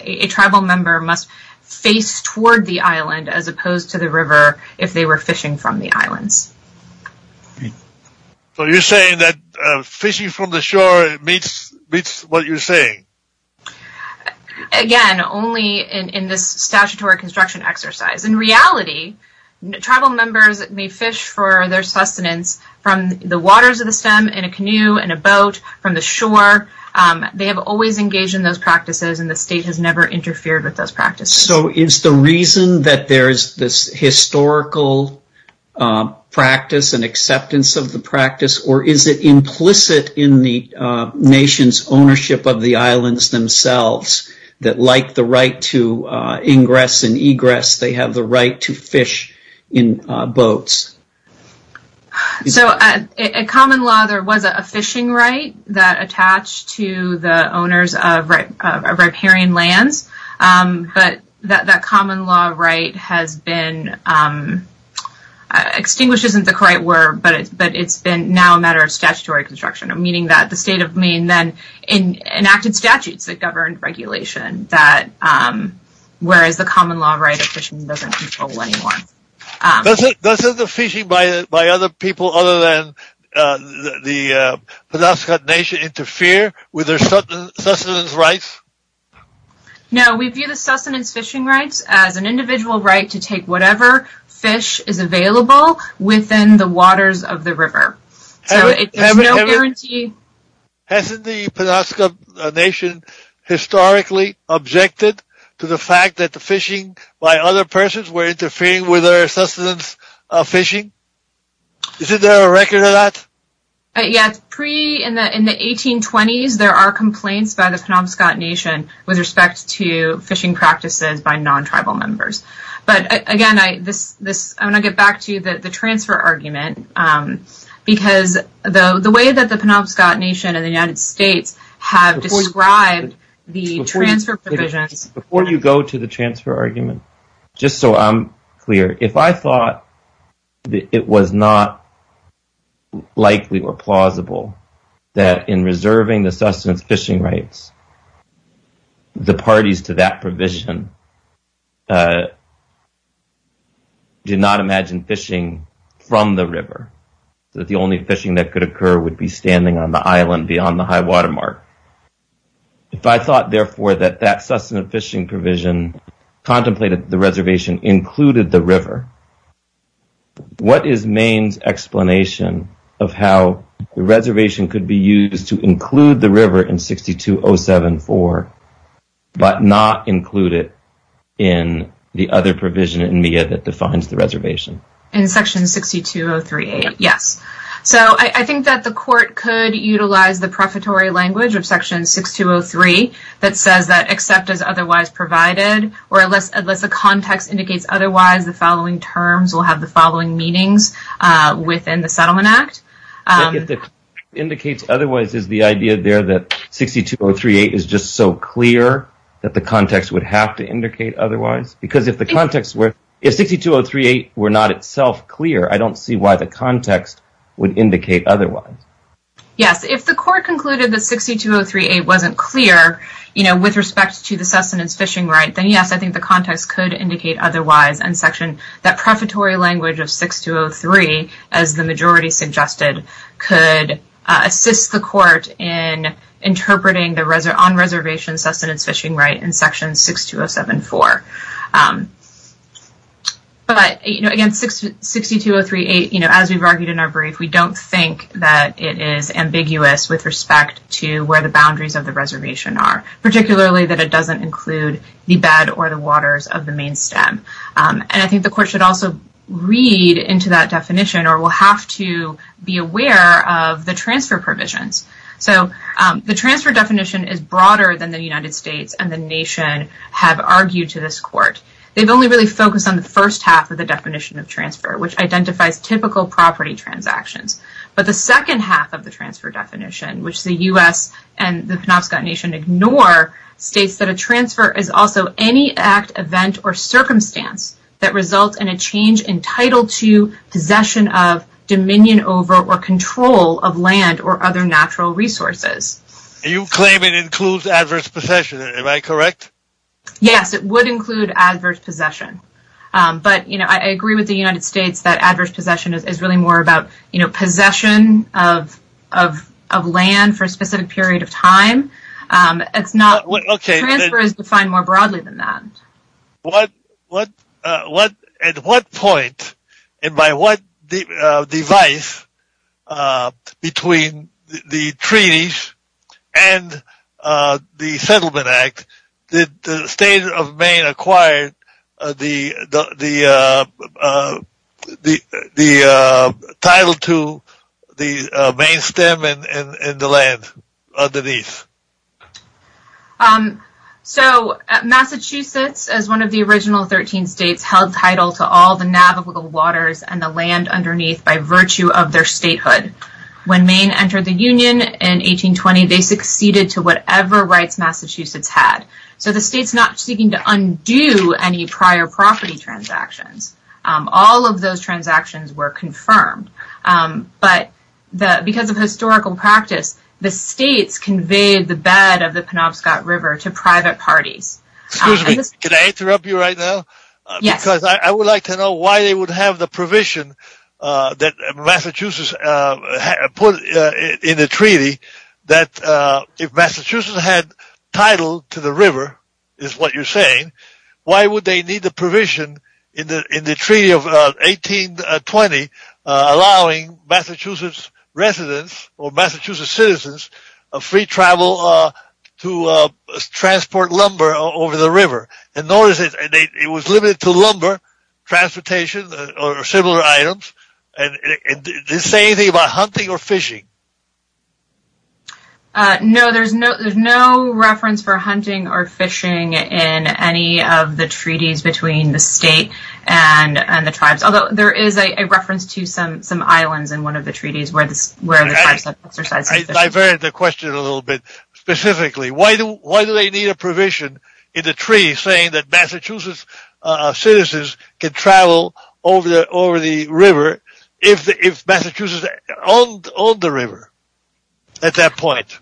a tribal member must face toward the island as opposed to the river if they were fishing from the islands. So you're saying that fishing from the shore meets what you're saying? Again, only in this statutory construction exercise. In reality, tribal members may fish for their sustenance from the waters of the stem in a canoe, in a boat, from the shore. They have always engaged in those practices, and the state has never interfered with those practices. So is the reason that there's this historical practice and acceptance of the practice, or is it implicit in the nation's ownership of the islands themselves that like the right to ingress and egress, they have the right to fish in boats? So in common law, there was a fishing right that attached to the owners of riparian land, but that common law right has been, extinguished isn't the correct word, but it's been now a matter of statutory construction, meaning that the state of Maine then enacted statutes that govern regulation, whereas the common law right of fishing doesn't control anymore. Doesn't the fishing by other people other than the Penobscot Nation interfere with their sustenance rights? No, we view the sustenance fishing rights as an individual right to take whatever fish is available within the waters of the river. So it's no guarantee. Hasn't the Penobscot Nation historically objected to the fact that the fishing by other persons were interfering with their sustenance fishing? Is there a record of that? Yes, in the 1820s, there are complaints by the Penobscot Nation with respect to fishing practices by non-tribal members. But again, I want to get back to the transfer argument, because the way that the Penobscot Nation and the United States have described the transfer provision... Before you go to the transfer argument, just so I'm clear, if I thought that it was not likely or plausible that in reserving the sustenance fishing rights, the parties to that provision did not imagine fishing from the river, that the only fishing that could occur would be standing on the island beyond the high-water mark. If I thought, therefore, that that sustenance fishing provision contemplated the reservation included the river, what is Maine's explanation of how the reservation could be used to include the river in 6207.4 but not include it in the other provision in MIA that defines the reservation? In section 6203, yes. So I think that the court could utilize the prefatory language of section 6203 that says that except as otherwise provided, or unless the context indicates otherwise, the following terms will have the following meanings within the Settlement Act. If it indicates otherwise, is the idea there that 6203.8 is just so clear that the context would have to indicate otherwise? Because if the context were... if 6203.8 were not itself clear, I don't see why the context would indicate otherwise. Yes, if the court concluded that 6203.8 wasn't clear, you know, with respect to the sustenance fishing right, then yes, I think the context could indicate otherwise in section... that prefatory language of 6203, as the majority suggested, could assist the court in interpreting the on-reservation sustenance fishing right in section 6207.4. But, you know, again, 6203.8, you know, as we've argued in our brief, we don't think that it is ambiguous with respect to where the boundaries of the reservation are, particularly that it doesn't include the bed or the waters of the main stem. And I think the court should also read into that definition or will have to be aware of the transfer provisions. So the transfer definition is broader than the United States and the nation have argued to this court. They've only really focused on the first half of the definition of transfer, which identifies typical property transactions. But the second half of the transfer definition, which the U.S. and the Penobscot Nation ignore, states that a transfer is also any act, event, or circumstance that results in a change entitled to possession of, dominion over, or control of land or other natural resources. You claim it includes adverse possession. Am I correct? Yes, it would include adverse possession. But I agree with the United States that adverse possession is really more about possession of land for a specific period of time. Transfer is defined more broadly than that. At what point and by what device between the treaties and the Settlement Act did the state of Maine acquire the title to the main stem and the land underneath? So Massachusetts, as one of the original 13 states, held title to all the navigable waters and the land underneath by virtue of their statehood. When Maine entered the Union in 1820, they succeeded to whatever rights Massachusetts had. So the state's not seeking to undo any prior property transactions. All of those transactions were confirmed. But because of historical practice, the states conveyed the bed of the Penobscot River to private party. Excuse me, can I interrupt you right now? Yes. Because I would like to know why they would have the provision that Massachusetts put in the treaty that if Massachusetts had title to the river, is what you're saying, why would they need the provision in the Treaty of 1820 allowing Massachusetts residents or Massachusetts citizens free travel to transport lumber over the river? And notice it was limited to lumber transportation or similar items. Did it say anything about hunting or fishing? No, there's no reference for hunting or fishing in any of the treaties between the states and the tribes. Although there is a reference to some islands in one of the treaties where the tribes have exercised this. I diverted the question a little bit. Specifically, why do they need a provision in the treaty saying that Massachusetts citizens can travel over the river if Massachusetts owned the river at that point?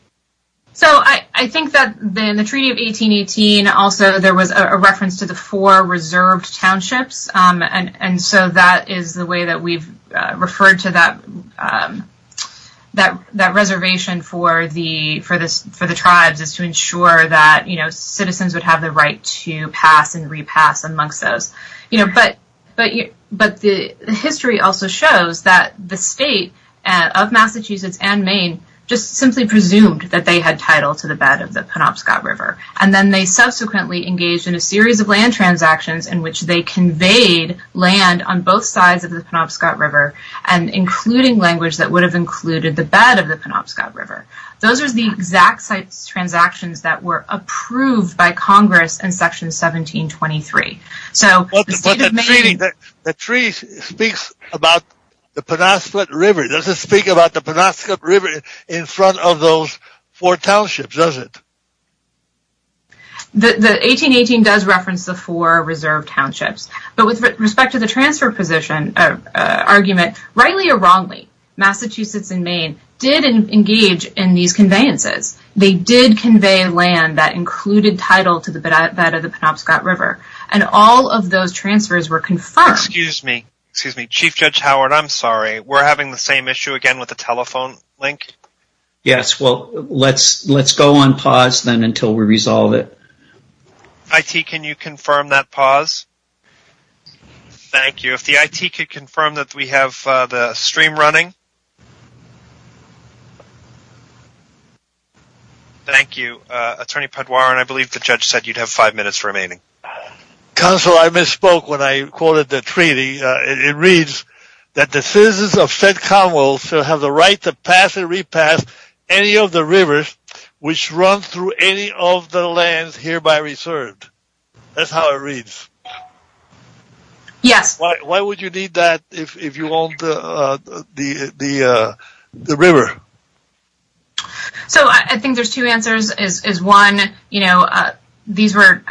So I think that in the Treaty of 1818, also there was a reference to the four reserved townships. And so that is the way that we've referred to that reservation for the tribes is to ensure that citizens would have the right to pass and repass amongst those. But history also shows that the state of Massachusetts and Maine just simply presumed that they had title to the bed of the Penobscot River. And then they subsequently engaged in a series of land transactions in which they conveyed land on both sides of the Penobscot River and including language that would have included the bed of the Penobscot River. Those are the exact same transactions that were approved by Congress in Section 1723. But the treaty speaks about the Penobscot River. It doesn't speak about the Penobscot River in front of those four townships, does it? The 1818 does reference the four reserved townships. But with respect to the transfer position argument, rightly or wrongly, Massachusetts and Maine did engage in these conveyances. They did convey land that included title to the bed of the Penobscot River. And all of those transfers were confirmed. Excuse me. Chief Judge Howard, I'm sorry. We're having the same issue again with the telephone link? Yes. Well, let's go on pause then until we resolve it. IT, can you confirm that pause? Thank you. If the IT could confirm that we have the stream running? Okay. Thank you. Attorney Paduaren, I believe the judge said you'd have five minutes remaining. Counsel, I misspoke when I quoted the treaty. It reads that the citizens of said commonwealth shall have the right to pass and repass any of the rivers which run through any of the lands hereby reserved. That's how it reads. Yeah. Why would you need that if you own the river? So I think there's two answers. One, these were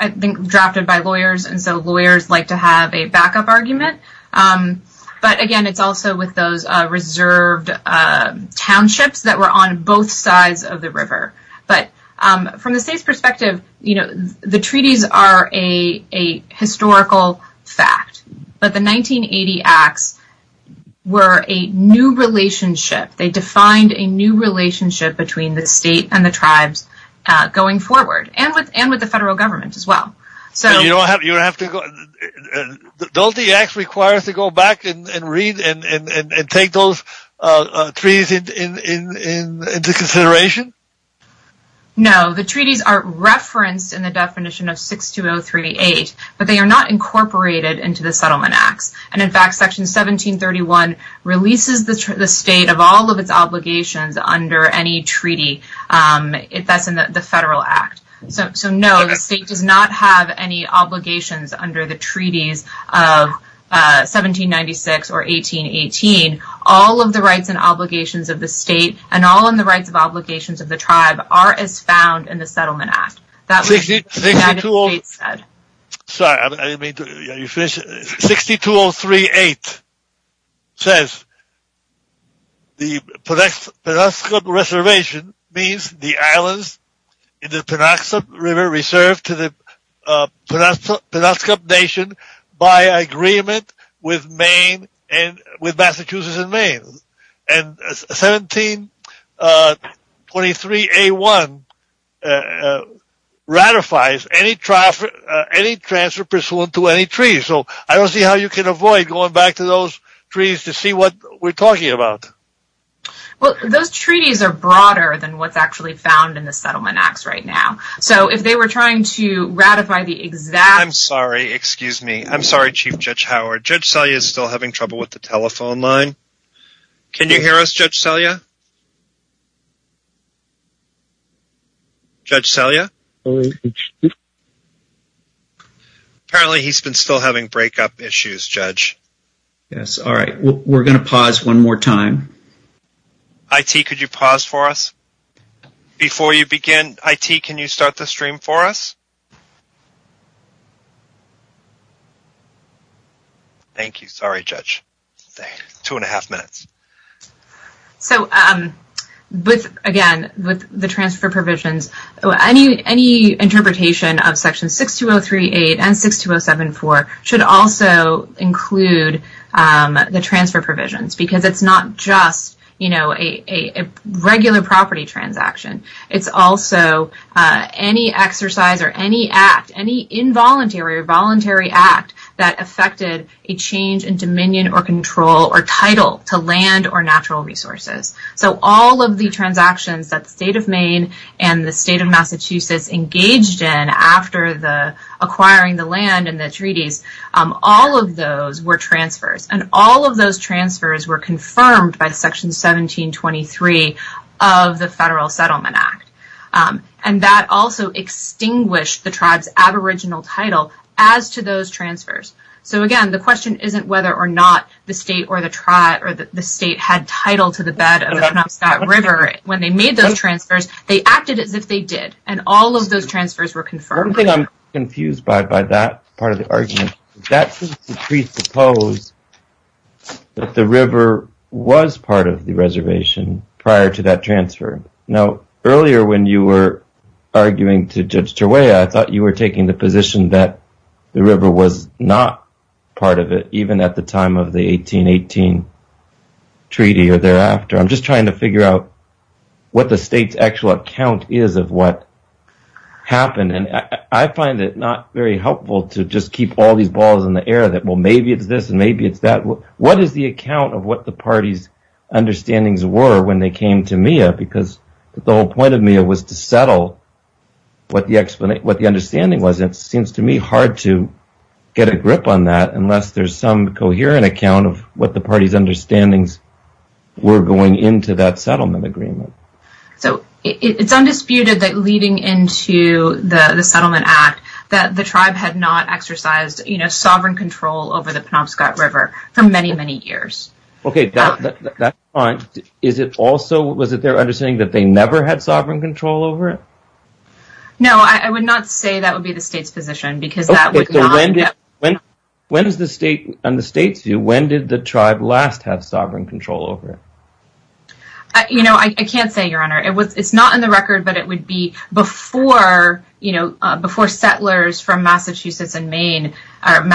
drafted by lawyers, and so lawyers like to have a backup argument. But again, it's also with those reserved townships that were on both sides of the river. But from the state's perspective, the treaties are a historical fact. The 1980 acts were a new relationship. They defined a new relationship between the state and the tribes going forward, and with the federal government as well. You don't have to go... Don't the acts require us to go back and read and take those treaties into consideration? No, the treaties are referenced in the definition of 62038, but they are not incorporated into the settlement act. And in fact, section 1731 releases the state of all of its obligations under any treaty that's in the federal act. So no, the state does not have any obligations under the treaties of 1796 or 1818. All of the rights and obligations of the state and all of the rights and obligations of the tribe are as found in the settlement act. 62038 says the Penobscot Reservation means the islands in the Penobscot River reserved to the Penobscot Nation by agreement with Massachusetts and Maine. And 1723A1 ratifies any transfer pursuant to any treaty. So I don't see how you can avoid going back to those treaties to see what we're talking about. Well, those treaties are broader than what's actually found in the settlement act right now. So if they were trying to ratify the exact... I'm sorry, excuse me. I'm sorry, Chief Judge Howard. Judge Selye is still having trouble hearing you. Can you hear us, Judge Selye? Judge Selye? Apparently he's been still having breakup issues, Judge. Yes, all right. We're going to pause one more time. IT, could you pause for us? Before you begin, IT, can you start the stream for us? Thank you. Sorry, Judge. Two and a half minutes. So with, again, the transfer provisions, any interpretation of section 62038 and 62074 should also include the transfer provisions because it's not just, you know, a regular property transaction. It's also any exercise or any act, any involuntary or voluntary act that affected a change in dominion or control or title to land or natural resources. So all of the transactions that the state of Maine and the state of Massachusetts engaged in after acquiring the land and the treaties, all of those were transfers. And all of those transfers were confirmed by section 1723 of the Federal Settlement Act. And that also extinguished the tribe's aboriginal title as to those transfers. So, again, the question isn't whether or not the state had title to the bed of the Knoxvac River when they made those transfers. They acted as if they did, and all of those transfers were confirmed. One thing I'm confused by by that part of the argument, that seems to presuppose that the river was part of the reservation prior to that transfer. Now, earlier when you were arguing to Judge Terwaya, you said that the river was not part of it even at the time of the 1818 treaty or thereafter. I'm just trying to figure out what the state's actual account is of what happened. And I find it not very helpful to just keep all these balls in the air that, well, maybe it's this and maybe it's that. What is the account of what the party's understandings were when they came to MIA? Because the whole point of MIA was to settle what the understanding was. It seems to me hard to get a grip on that unless there's some coherent account of what the party's understandings were going into that settlement agreement. So, it's undisputed that leading into the settlement act that the tribe had not exercised sovereign control over the Penobscot River for many, many years. Okay, that's fine. Is it also, was it their understanding that they never had sovereign control over it? No, I would not say that would be the state's position because that would not... Okay, so when did the state and the states do, when did the tribe last have sovereign control over it? You know, I can't say, Your Honor. It's not in the record but it would be before, you know, before settlers from Massachusetts and Maine, from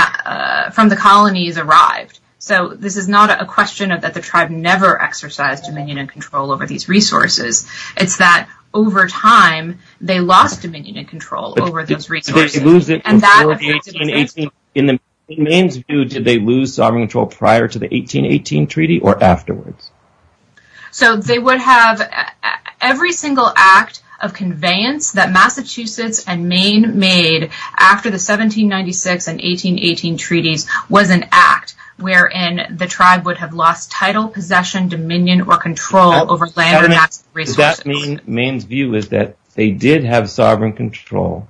the colonies arrived. They did not exercise dominion and control over these resources. It's that, over time, they lost dominion and control over those resources. Did they lose their control in the 1818... In Maine's view, did they lose sovereign control prior to the 1818 treaty or afterwards? So, they would have every single act of conveyance that Massachusetts and Maine made after the 1796 and 1818 treaties was an act of conveyance or control over land and resources. Does that mean Maine's view is that they did have sovereign control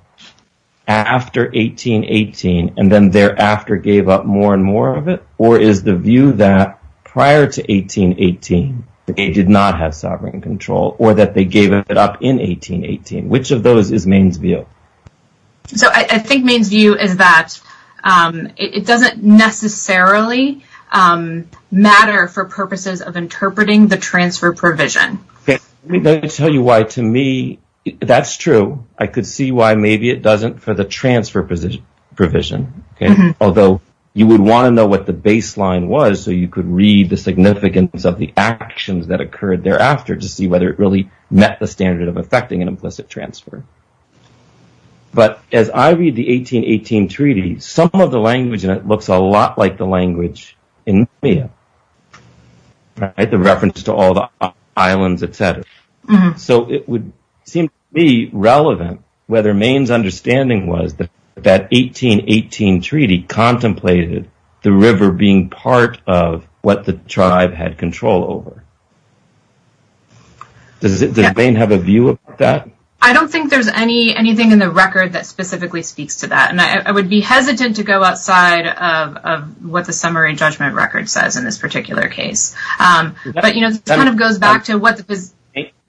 after 1818 and then thereafter gave up more and more of it or is the view that prior to 1818 they did not have sovereign control or that they gave it up in 1818? Which of those is Maine's view? So, I think Maine's view is that it doesn't necessarily matter for purposes of interpreting the transfer provision. Let me tell you why, to me, that's true. I could see why maybe it doesn't for the transfer provision. Although, you would want to know what the baseline was so you could read the significance of the actions that occurred thereafter to see whether it really met the standard of effecting an implicit transfer. But, as I read the 1818 treaty, some of the language and it looks a lot like the language in India, the reference to all the islands, etc. So, it would seem to be relevant whether Maine's understanding was that 1818 treaty contemplated the river being part of what the tribe had control over. Does Maine have a view of that? I don't think there's anything in the record that specifically speaks to that and I would be hesitant to go outside of what the summary judgment record says in this particular case. But, you know, it kind of goes back to what the... Does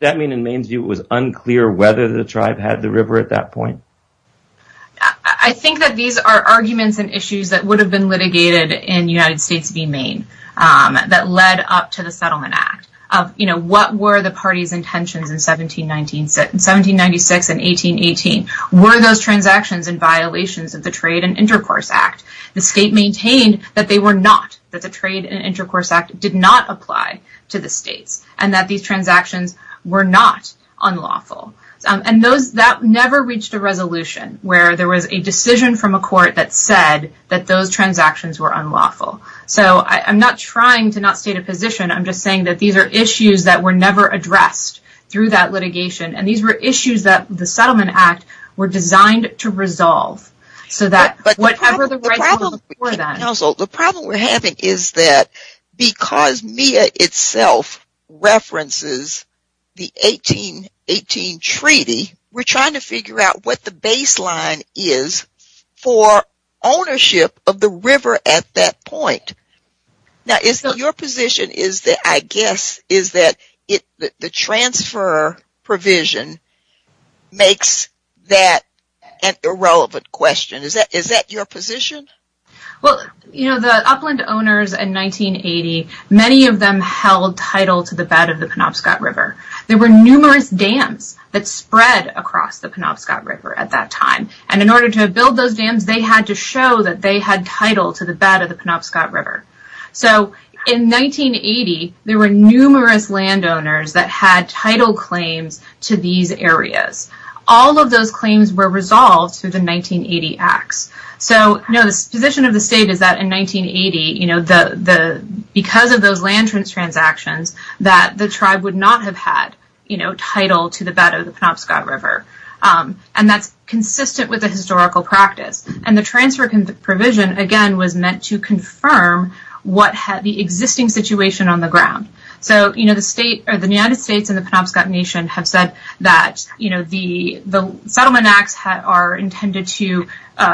that mean in Maine's view it was unclear whether the tribe had the river at that point? I think that these are arguments and issues that would have been litigated in United States v. Maine that led up to the Settlement Act. You know, what were the party's intentions in 1796 and 1818? Were those transactions in violation of the Trade and Intercourse Act? The state maintained that they were not, that the Trade and Intercourse Act did not apply to the state and that these transactions were not unlawful. And that never reached a resolution where there was a decision from a court that said that those transactions were unlawful. So, I'm not trying to not state a position. I'm just saying that these are issues that were never addressed through that litigation and these were issues that the Settlement Act were designed to resolve so that whatever the resolution was designed. The problem we're having is that because MEA itself references the 1818 Treaty, we're trying to figure out what the baseline is for ownership of the river at that point. Now, Isabel, your position is that I guess is that the transfer provision makes that an irrelevant question. Is that your position? Well, the upland owners in 1980, many of them held title to the bed of the Penobscot River. There were numerous dams that spread across the Penobscot River at that time. And in order to build those dams, they had to show that they had title to the bed of the Penobscot River. So, in 1980, there were numerous landowners that had title claims to these areas. All of those claims were resolved through the 1980 Act. So, the position of the state is that in 1980, because of those land transactions, that the tribe would not have had title to the bed of the Penobscot River. And that's consistent with the historical practice. And the transfer provision, again, was meant to confirm the existing situation on the ground. So, the United States and the Penobscot Nation have said that the Settlement Acts are intended to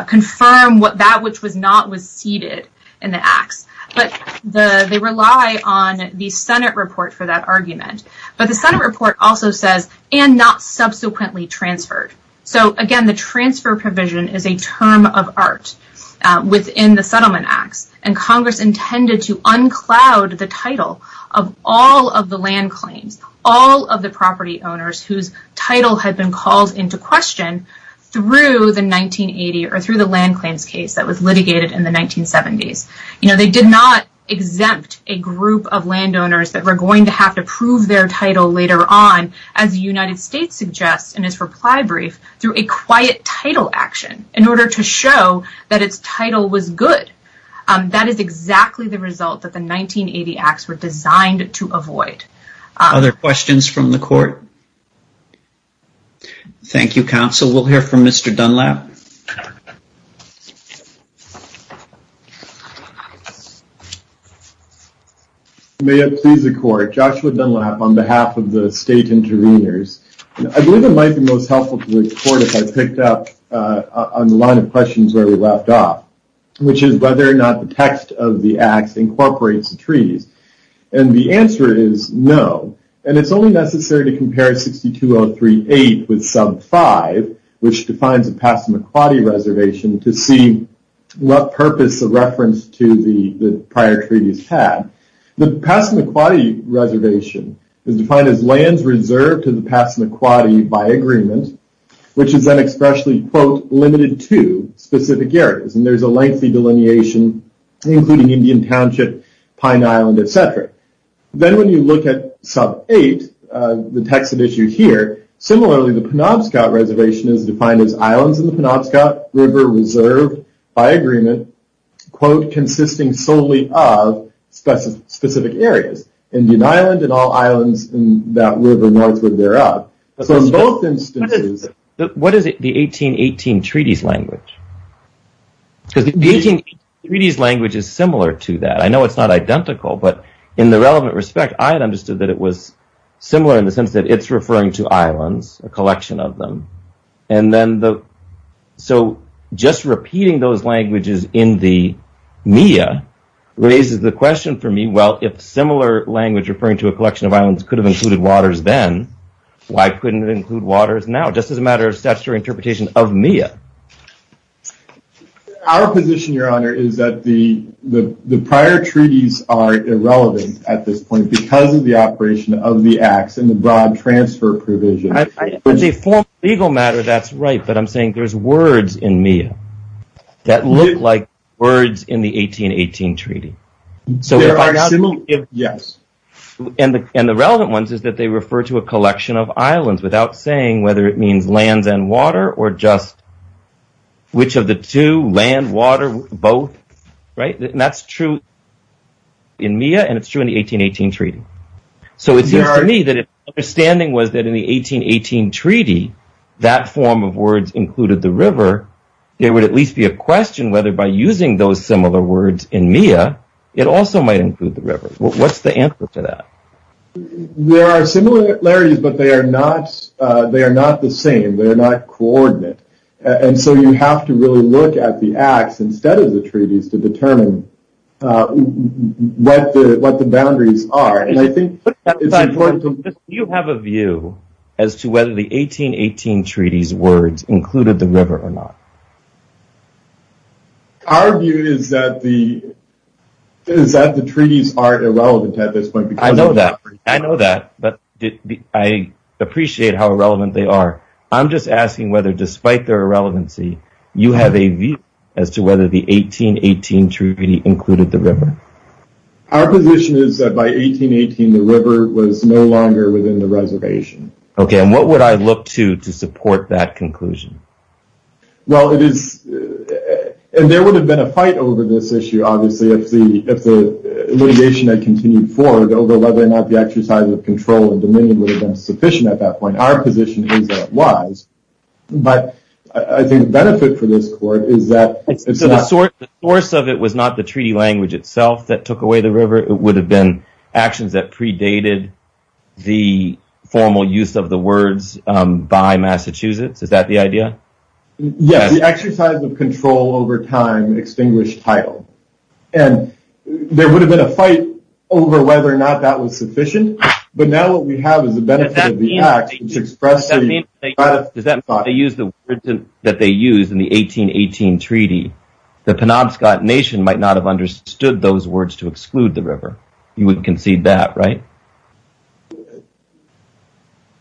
confirm what that which was not was ceded in the Acts. But they rely on the Senate report for that argument. But the Senate report also says, and not subsequently transferred. So, again, the transfer provision is a term of art within the Settlement Acts. And Congress intended to uncloud the title of all of the land claims, all of the property owners whose title has been called into question through the 1980 or through the land claims case that was litigated in the 1970s. You know, they did not exempt a group of landowners that were going to have to prove their title later on as the United States suggests in its reply brief through a quiet title action in order to show that its title was good. That is exactly the result that the 1980 Acts were designed to avoid. Other questions from the Court? Thank you, Counsel. We'll hear from Mr. Dunlap. May I please record, Joshua Dunlap on behalf of the State Intervenors. I believe it might be most helpful for the Court if I picked up on the line of questions that were left off, which is whether or not the text of the Act incorporates the treaty. And the answer is no. And it's only necessary to compare 62038 with sub 5, which defines a Passamaquoddy reservation to see what purpose the reference to the prior treaty had. The Passamaquoddy reservation is defined as lands reserved to the Passamaquoddy by agreement, which is then expressly quote, limited to specific areas. And there's a lengthy delineation including Indian Township, Pine Island, etc. Then when you look at sub 8, the text of the issue here, the Penobscot reservation is defined as islands in the Penobscot River reserved by agreement, quote, consisting solely of specific areas, Indian Island and all islands in that river northward thereof. So in both instances, what is the 1818 treaties language? The 1818 treaties language is similar to that. I know it's not identical, but in the relevant respect, I had understood that it was similar in the sense that it's referring to islands, a collection of them. So just repeating those languages in the media raises the question for me, well, if similar language referring to a collection of islands could have included waters then, why couldn't it include waters now? Just as a matter of statutory interpretation of MIA. Our position, Your Honor, is that the prior treaties are irrelevant at this point because of the operation of the acts and the broad transfer provision. As a formal legal matter, that's right, but I'm saying there's words in MIA that look like words in the 1818 treaty. So we're arguing if yes. And the relevant ones is that they refer to a collection of islands without saying whether it means land than water or just which of the two, land, water, both. Right? And that's true in MIA and it's true in the 1818 treaty. So it seems to me that if the understanding was that in the 1818 treaty, that form of words included the river, there would at least be a question whether by using those similar words in MIA, it also might include the river. What's the answer to that? There are similarities, but they are not the same. They're not coordinate. And so you have to really look at the acts instead of the treaties to determine what the boundaries are. Do you have a view as to whether the 1818 treaty's words included the river or not? Our view is that the treaties aren't as relevant at this point. I know that. I know that, but I appreciate how relevant they are. I'm just asking whether despite their irrelevancy, you have a view as to whether the 1818 treaty included the river. Our position is that by 1818, the river was no longer within the reservation. Okay. And what would I look to to support that conclusion? Well, there would have been a fight over this issue obviously if the litigation had continued forward. Although, why not the exercise of control and dominion would have been sufficient at that point. Our position is that it was. But, I think the benefit for this court is that the source of it was not the treaty language itself that took away the river. It would have been actions that predated the formal use of the words by Massachusetts. Is that the idea? Yes. The exercise of control over time extinguished title. And there would have been a fight over whether or not that was sufficient. But, now what we have is the benefit of the act is to express the status quo. Does that mean that they used the words that they used in the 1818 treaty that the Penobscot Nation might not have understood those words to exclude the river? You would concede that, right?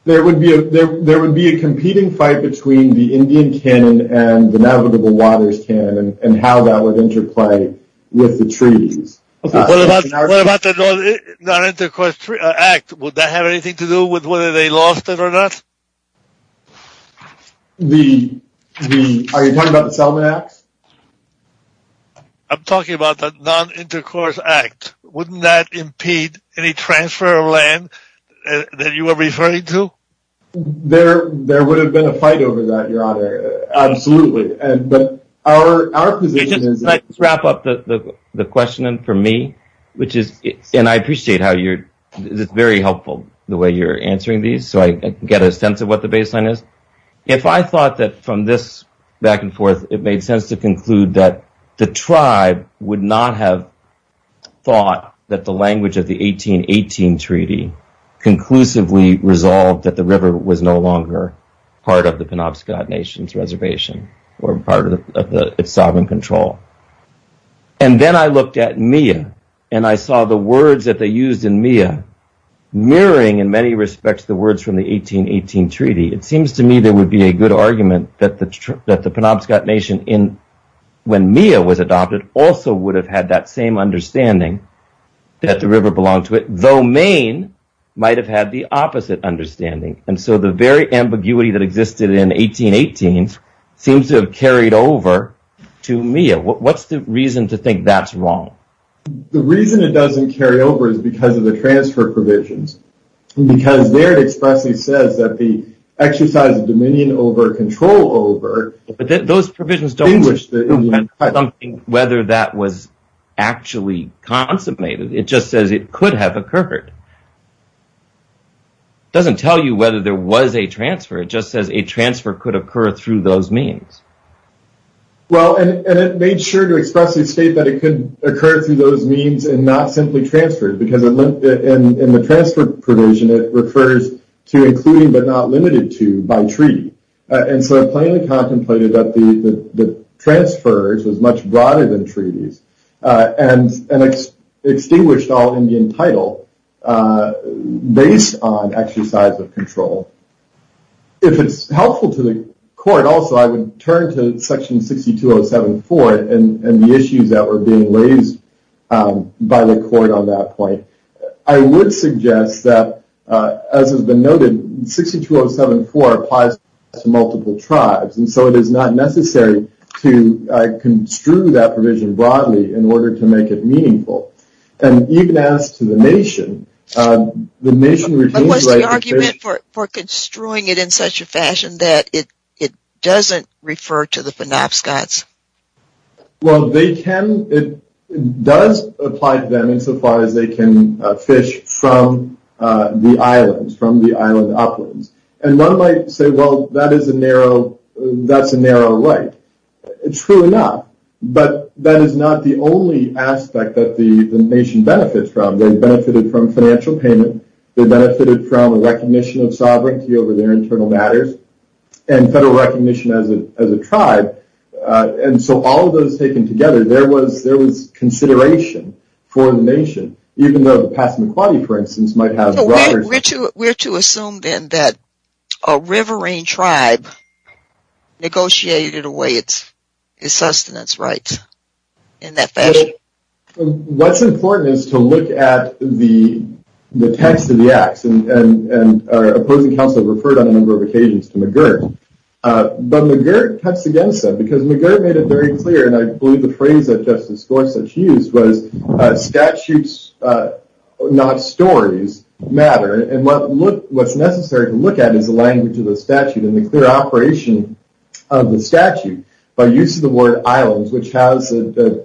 There would be a competing fight between the Indian Canyon and the Navigable Waters Canyon and how that would interplay with the treaty. What about the non-intercourse act? Would that have anything to do with whether they lost it or not? Are you talking about the Selma Act? I'm talking about the non-intercourse act. Wouldn't that impede any transfer of land that you are referring to? There would have been a fight over that, Your Honor. Absolutely. Our position is... Let's wrap up the question for me. And I appreciate how you're... It's very helpful the way you're answering these so I get a sense of what the baseline is. If I thought that from this back and forth it made sense to conclude that the tribe would not have thought that the language of the 1818 treaty conclusively resolved that the river was no longer part of the Penobscot Nation's reservation or part of its sovereign control. And then I looked at me and I saw the words that they used in Mia mirroring in many respects the words from the 1818 treaty. It seems to me there would be a good argument that the Penobscot Nation in... when Mia was adopted also would have had that same understanding that the river belonged to it though Maine might have had the opposite understanding. And so the very ambiguity that existed in 1818 seems to have carried over to Mia. What's the reason to think that's wrong? The reason it doesn't carry over is because of the transfer provisions. And because there it expressly says that the exercise of dominion over control over... But then those provisions don't distinguish whether that was actually contemplated. It just says it could have occurred. It doesn't tell you whether there was a transfer. It just says a transfer could occur through those means. Well, and it made sure to expressly state that it could occur through those means and not simply transfers. Because in the transfer provision it refers to including but not limited to by treaty. And so I'm planning to contemplate that the transfers was much broader than treaties and extinguished all Indian title based on exercise of control. If it's helpful to the court also I would turn to section 62074 and the issues that were being raised by the court on that point. I would suggest that as has been noted 62074 applies to multiple tribes and so it is not necessary to construe that provision broadly in order to make it meaningful. And you can ask the nation. The nation... What's the argument for construing it in such a fashion that it doesn't refer to the phenapscots? Well, they can... It does apply to them so far as they can fish from the islands, from the islands upward. And one might say, well, that is a narrow... That's a narrow way. True enough. But that is not the only aspect that the nation benefits from. They benefited from financial payment. They benefited from recognition of sovereignty over their internal matters. And federal recognition as a tribe. And so all those taken together, there was consideration for the nation, even though the past might have... We're to assume then that a riverine tribe negotiated away its sustenance rights in that fashion? What's important is to look at the text of the act and then the text of the act. And the text of the act is a document that states that the document states that the document states that it states that it states that it states that it states that it states that it states that it states that the act is an act that the state nature does not modify islands. It does not modify islands. The word islands precedes the word solely. So we know what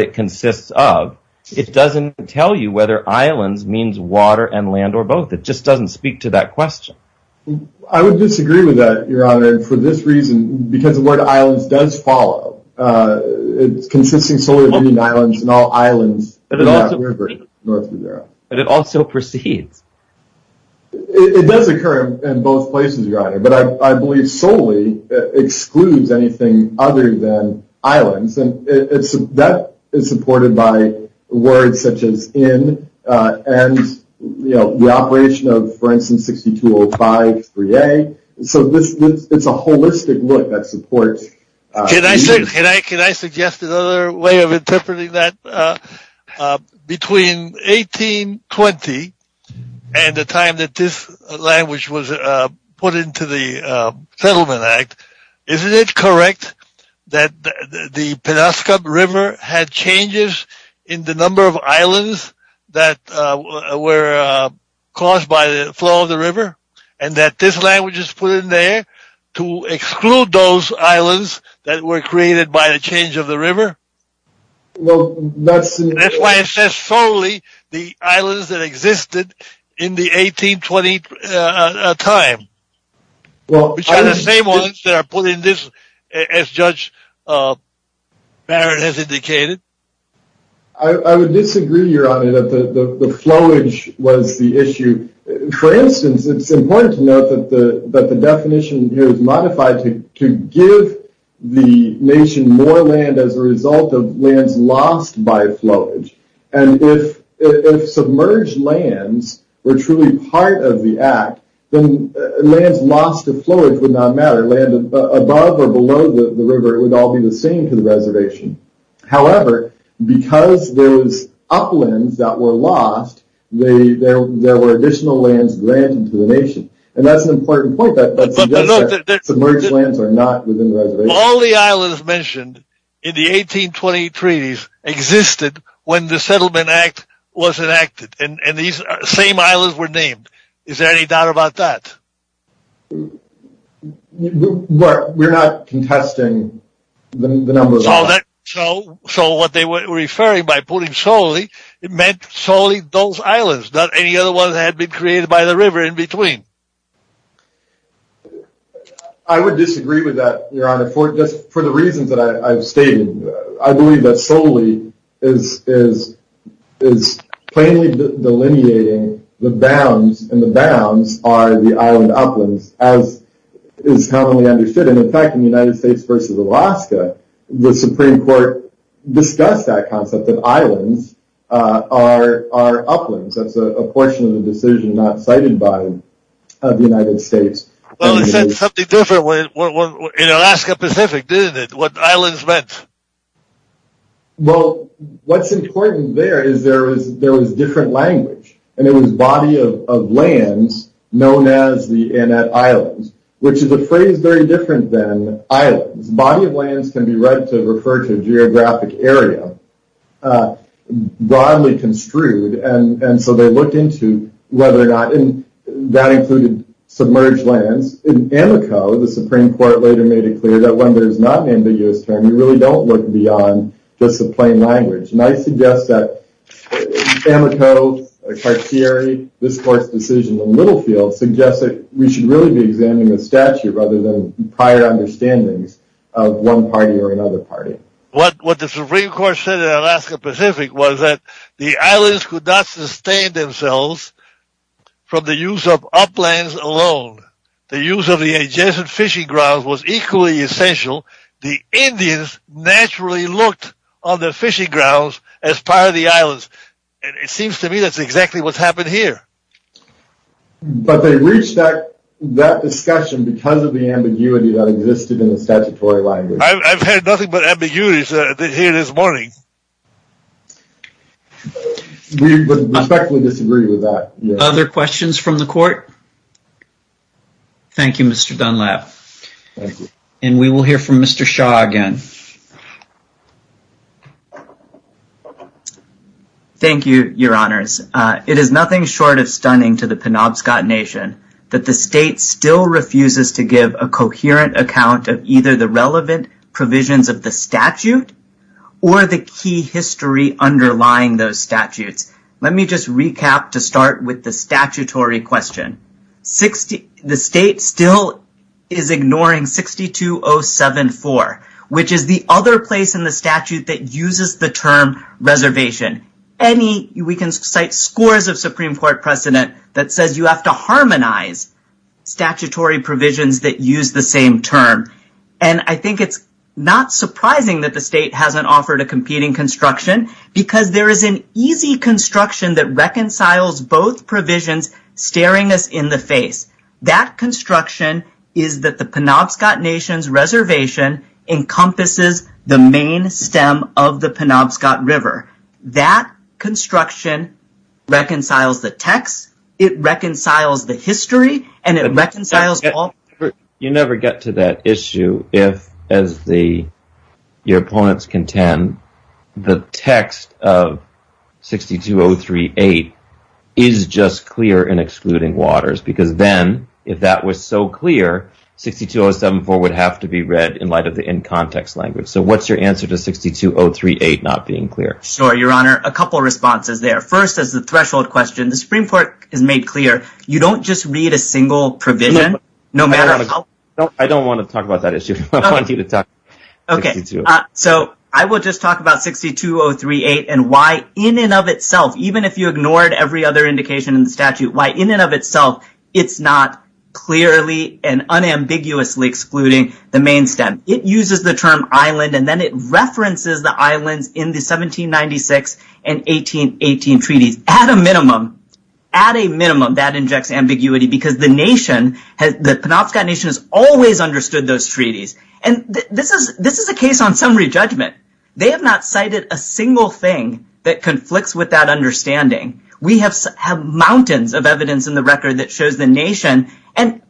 it consists of. It doesn't tell you whether islands means water and land or both. It doesn't speak to that question. I would disagree with that. The word islands does follow. It does occur in both places. I believe solely excludes anything other than islands. That is by words such as in and the operation of for instance 6205 3A. It's a holistic look that supports the notion of islands. Can I suggest another way of interpreting that? Between 1820 and the time that this language was put into the settlement act, isn't it correct that the Penobscot River had changes in the number of islands that were caused by the flow of the river and that this language was put in there to exclude those islands that were created by the change of the river? That's why it says solely the islands that existed in the 1820 time. Are the same ones that are put in this as Judge Barrett has indicated? I would suggest that the definition is modified to give the nation more land as a result of lands lost by flowage. If submerged lands were truly part of the act, lands lost would not matter. Land above or below the river would be the same for the reservation. However, because those uplands that were lost, there were additional lands granted to the nation. That's an important point. All the islands mentioned in the 1820 treaties existed when the settlement act was enacted. The same islands were named. Is there any doubt about that? We're not If you're referring by putting solely, it meant solely those islands, not any other ones created by the river in between. I would that, your honor, for the reasons I stated. I believe that solely is plainly delineating the bounds and the bounds are the island and the islands are uplands. That's a portion of the decision not cited by the United States. It said something different in Alaska Pacific, didn't it? What islands meant. What's important there is there was different language. It was body of land known as the islands. Which is a phrase that's very different than island. Body of lands can be referred to as geographic area. Broadly construed. And so they looked into whether or not that included submerged land. When there's not an ambiguous term, you don't look beyond the plain language. The Supreme Court said that the islands could not sustain themselves from the use of alone. The use of the adjacent fishing grounds was equally essential. The Indians naturally looked on the fishing grounds to see themselves as part of the islands. It seems to me that's exactly what's happened here. I've had nothing but ambiguities here this morning. We would respectfully disagree with that. Other questions from the court? Thank you, Mr. Dunlap. And we will hear from Mr. Shaw again. Thank you, your honors. It is nothing short of stunning to the Penobscot nation that the state still refuses to give a coherent account of either the relevant provisions of the statute or the key history underlying those statutes. Let me just recap to start with the statutory question. The state still is ignoring 62074, which is the other place in the statute that uses the term reservation. We can cite scores of Supreme Court precedent that says you have to harmonize statutory provisions that use the same term. I think it's not surprising that the state hasn't offered a competing construction because there is an easy construction that reconciles both provisions staring us in the face. That construction is that the Penobscot nation's reservation encompasses the main stem of the Penobscot river. That construction reconciles the text. It reconciles the history. You never get to that issue if, as your opponents contend, the text of 62038 is just clear in excluding waters because then if that was so clear, 62074 would have to be read in light of the in-context language. What is your answer to 62038 not being clear? A couple of responses. You don't just read a single provision. I don't want to talk about that issue. I will talk about 62038 and why in and of itself, why in and of itself it is not clearly and unambiguously excluding waters. It uses the term island and references the islands in the 1796 and 1818 treaties. At a minimum, that injects ambiguity because the Penobscot nation has always understood those treaties. They have not cited a single thing that conflicts with that understanding. We have mountains of evidence in the record that shows the nation and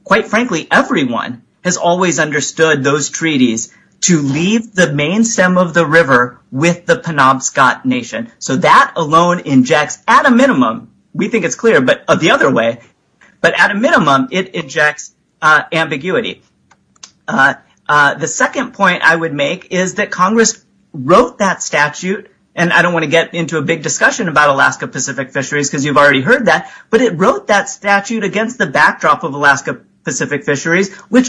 everyone has understood those treaties to leave the main stem of the river with the Penobscot nation. That alone injects ambiguity. The second point I would make is that Congress wrote that statute and I don't want to get into a big deal about Alaska Pacific fisheries but it wrote that statute against the backdrop of Alaska Pacific fisheries and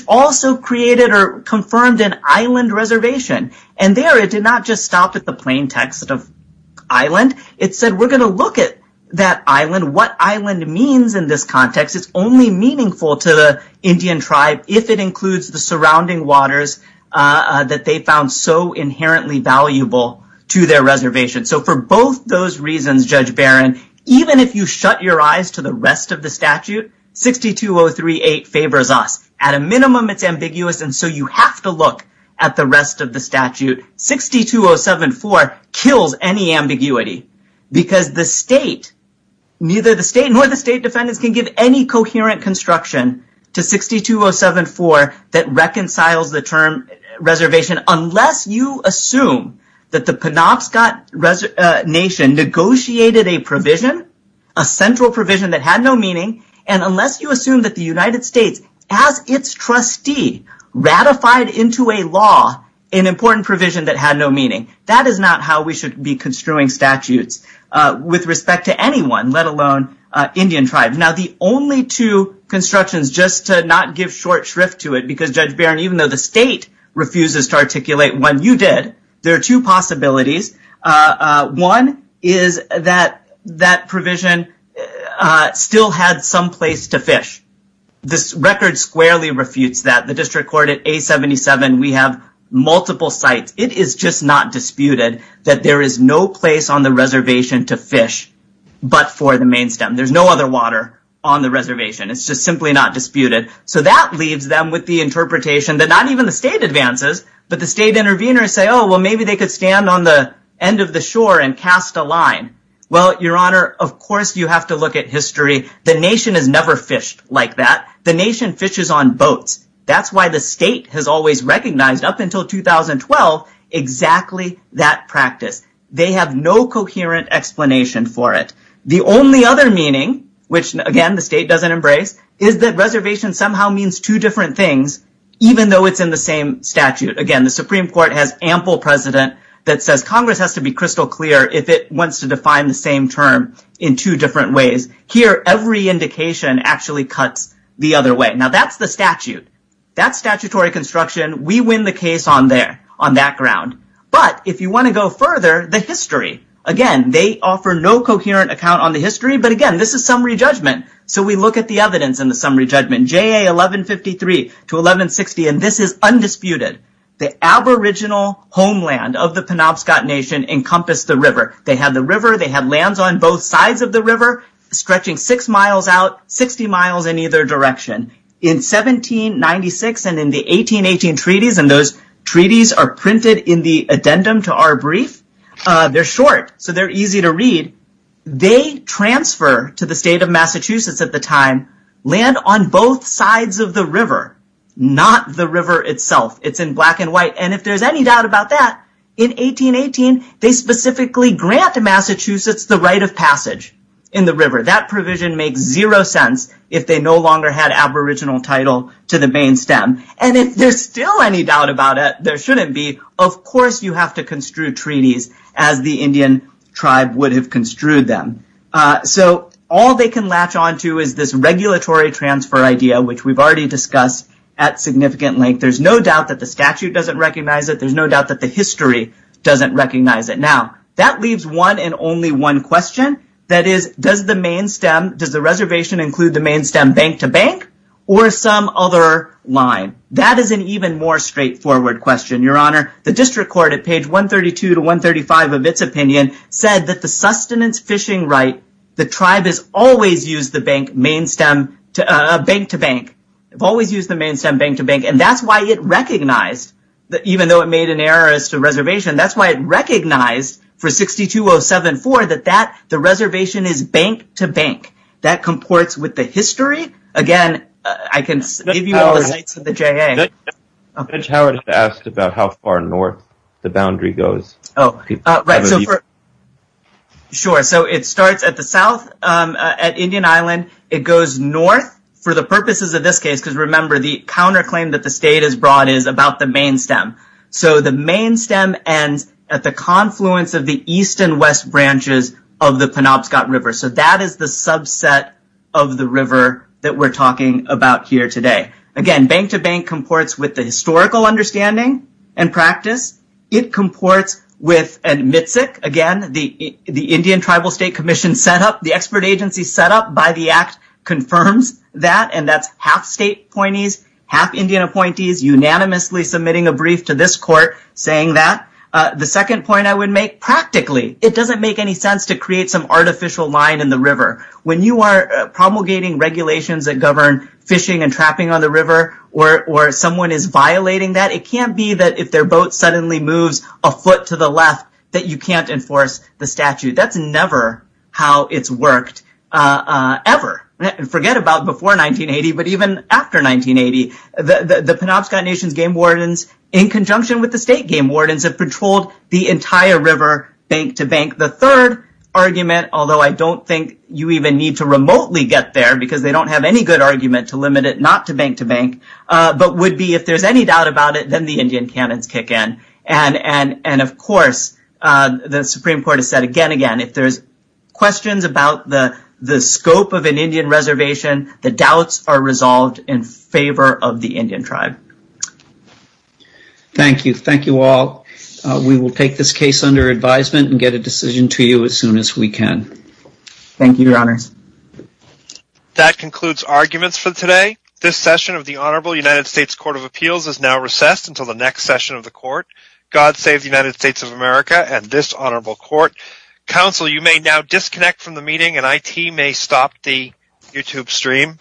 there it did not just stop at the plain text of island. It said we are going to look at that island. It is only meaningful to the Indian tribe if it includes the surrounding waters they found so valuable. Even if you shut your eyes to the rest of the statute, 62038 favors us. You have to look at the rest of the statute. 62074 kills any ambiguity because the state can give any coherent construction to 62074 that reconciles the term unless you assume the nation negotiated a provision that had no meaning and unless you assume the United States as its trustee ratified a provision that had no meaning. That is not how we should be construing statutes with respect to anyone let alone Indian tribe. The only two constructions just to not give short shrift to it even though the state refuses to articulate what you did, there are two possibilities. One is that provision still had some place to fish. The record squarely refutes that. We have multiple sites. It is not disputed there is no place on the reservation to fish but for the main stem. There is no other water on the reservation. That leaves them with the interpretation that not even the state advances but the state intervenors say maybe they can stand on the shore and cast a line. Of course you have to look at history. The nation fishes on boats. That is why the state recognized that until 2012. Exactly that practice. They have no coherent explanation. The only other meaning is that reservation means two different things even though it is in the same statute. Congress has to be crystal clear if it wants to define the same term. That is the statute. We win the case on that ground. If you want to go further, the history. Again, this is summary judgment. We look at the evidence. This is undisputed. The aboriginal homeland encompassed the river. They have lands on both sides of the river. In 1796 and 1818 treaties printed in the addendum to our brief, they are short. They transfer to the state of Massachusetts land on both sides of the river. If there is any doubt about that, in 1818, they specifically grant Massachusetts the right of passage in the river. If there is still any doubt about it, there shouldn't be. Of course you have to construe treaties as the Indian tribe would have construed them. All they can latch on to is this regulatory transfer idea. There is no doubt that the statute doesn't recognize it. That leaves one question. Does the reservation include bank-to-bank or some other line? That is an even more straightforward question. The district court said the sustenance fishing right, the tribe has always used the bank-to-bank and that is why it recognized for 62074 that the reservation is bank-to-bank. That comports with the history. Again, I can give you all the links to the JA. It starts at the south at Indian Island. It goes north for the purposes of this case. The counterclaim is about the main stem. The main stem ends at the east and west river. It doesn't make sense to create artificial lines in the river. It can't be that if their boat moves a foot to the left that you can't enforce the statute. That's never how it worked before 1980. The third argument although I don't think you even need to remotely get there because they don't have any good argument to limit it not to bank to bank but if there's any doubt about it then the Indian cannons kick in. If there's questions about the scope of an Indian reservation, the doubts are resolved in favor of the Indian tribe. Thank you. Thank you all. We will case under advisement and get a decision to you as soon as we can. Thank you, your honor. That concludes arguments for today. This session of the honorable United States Court of Appeals is now recessed. God save the United States of America and this honorable court. Counsel, you may now disconnect from the meeting and IT may stop the YouTube stream.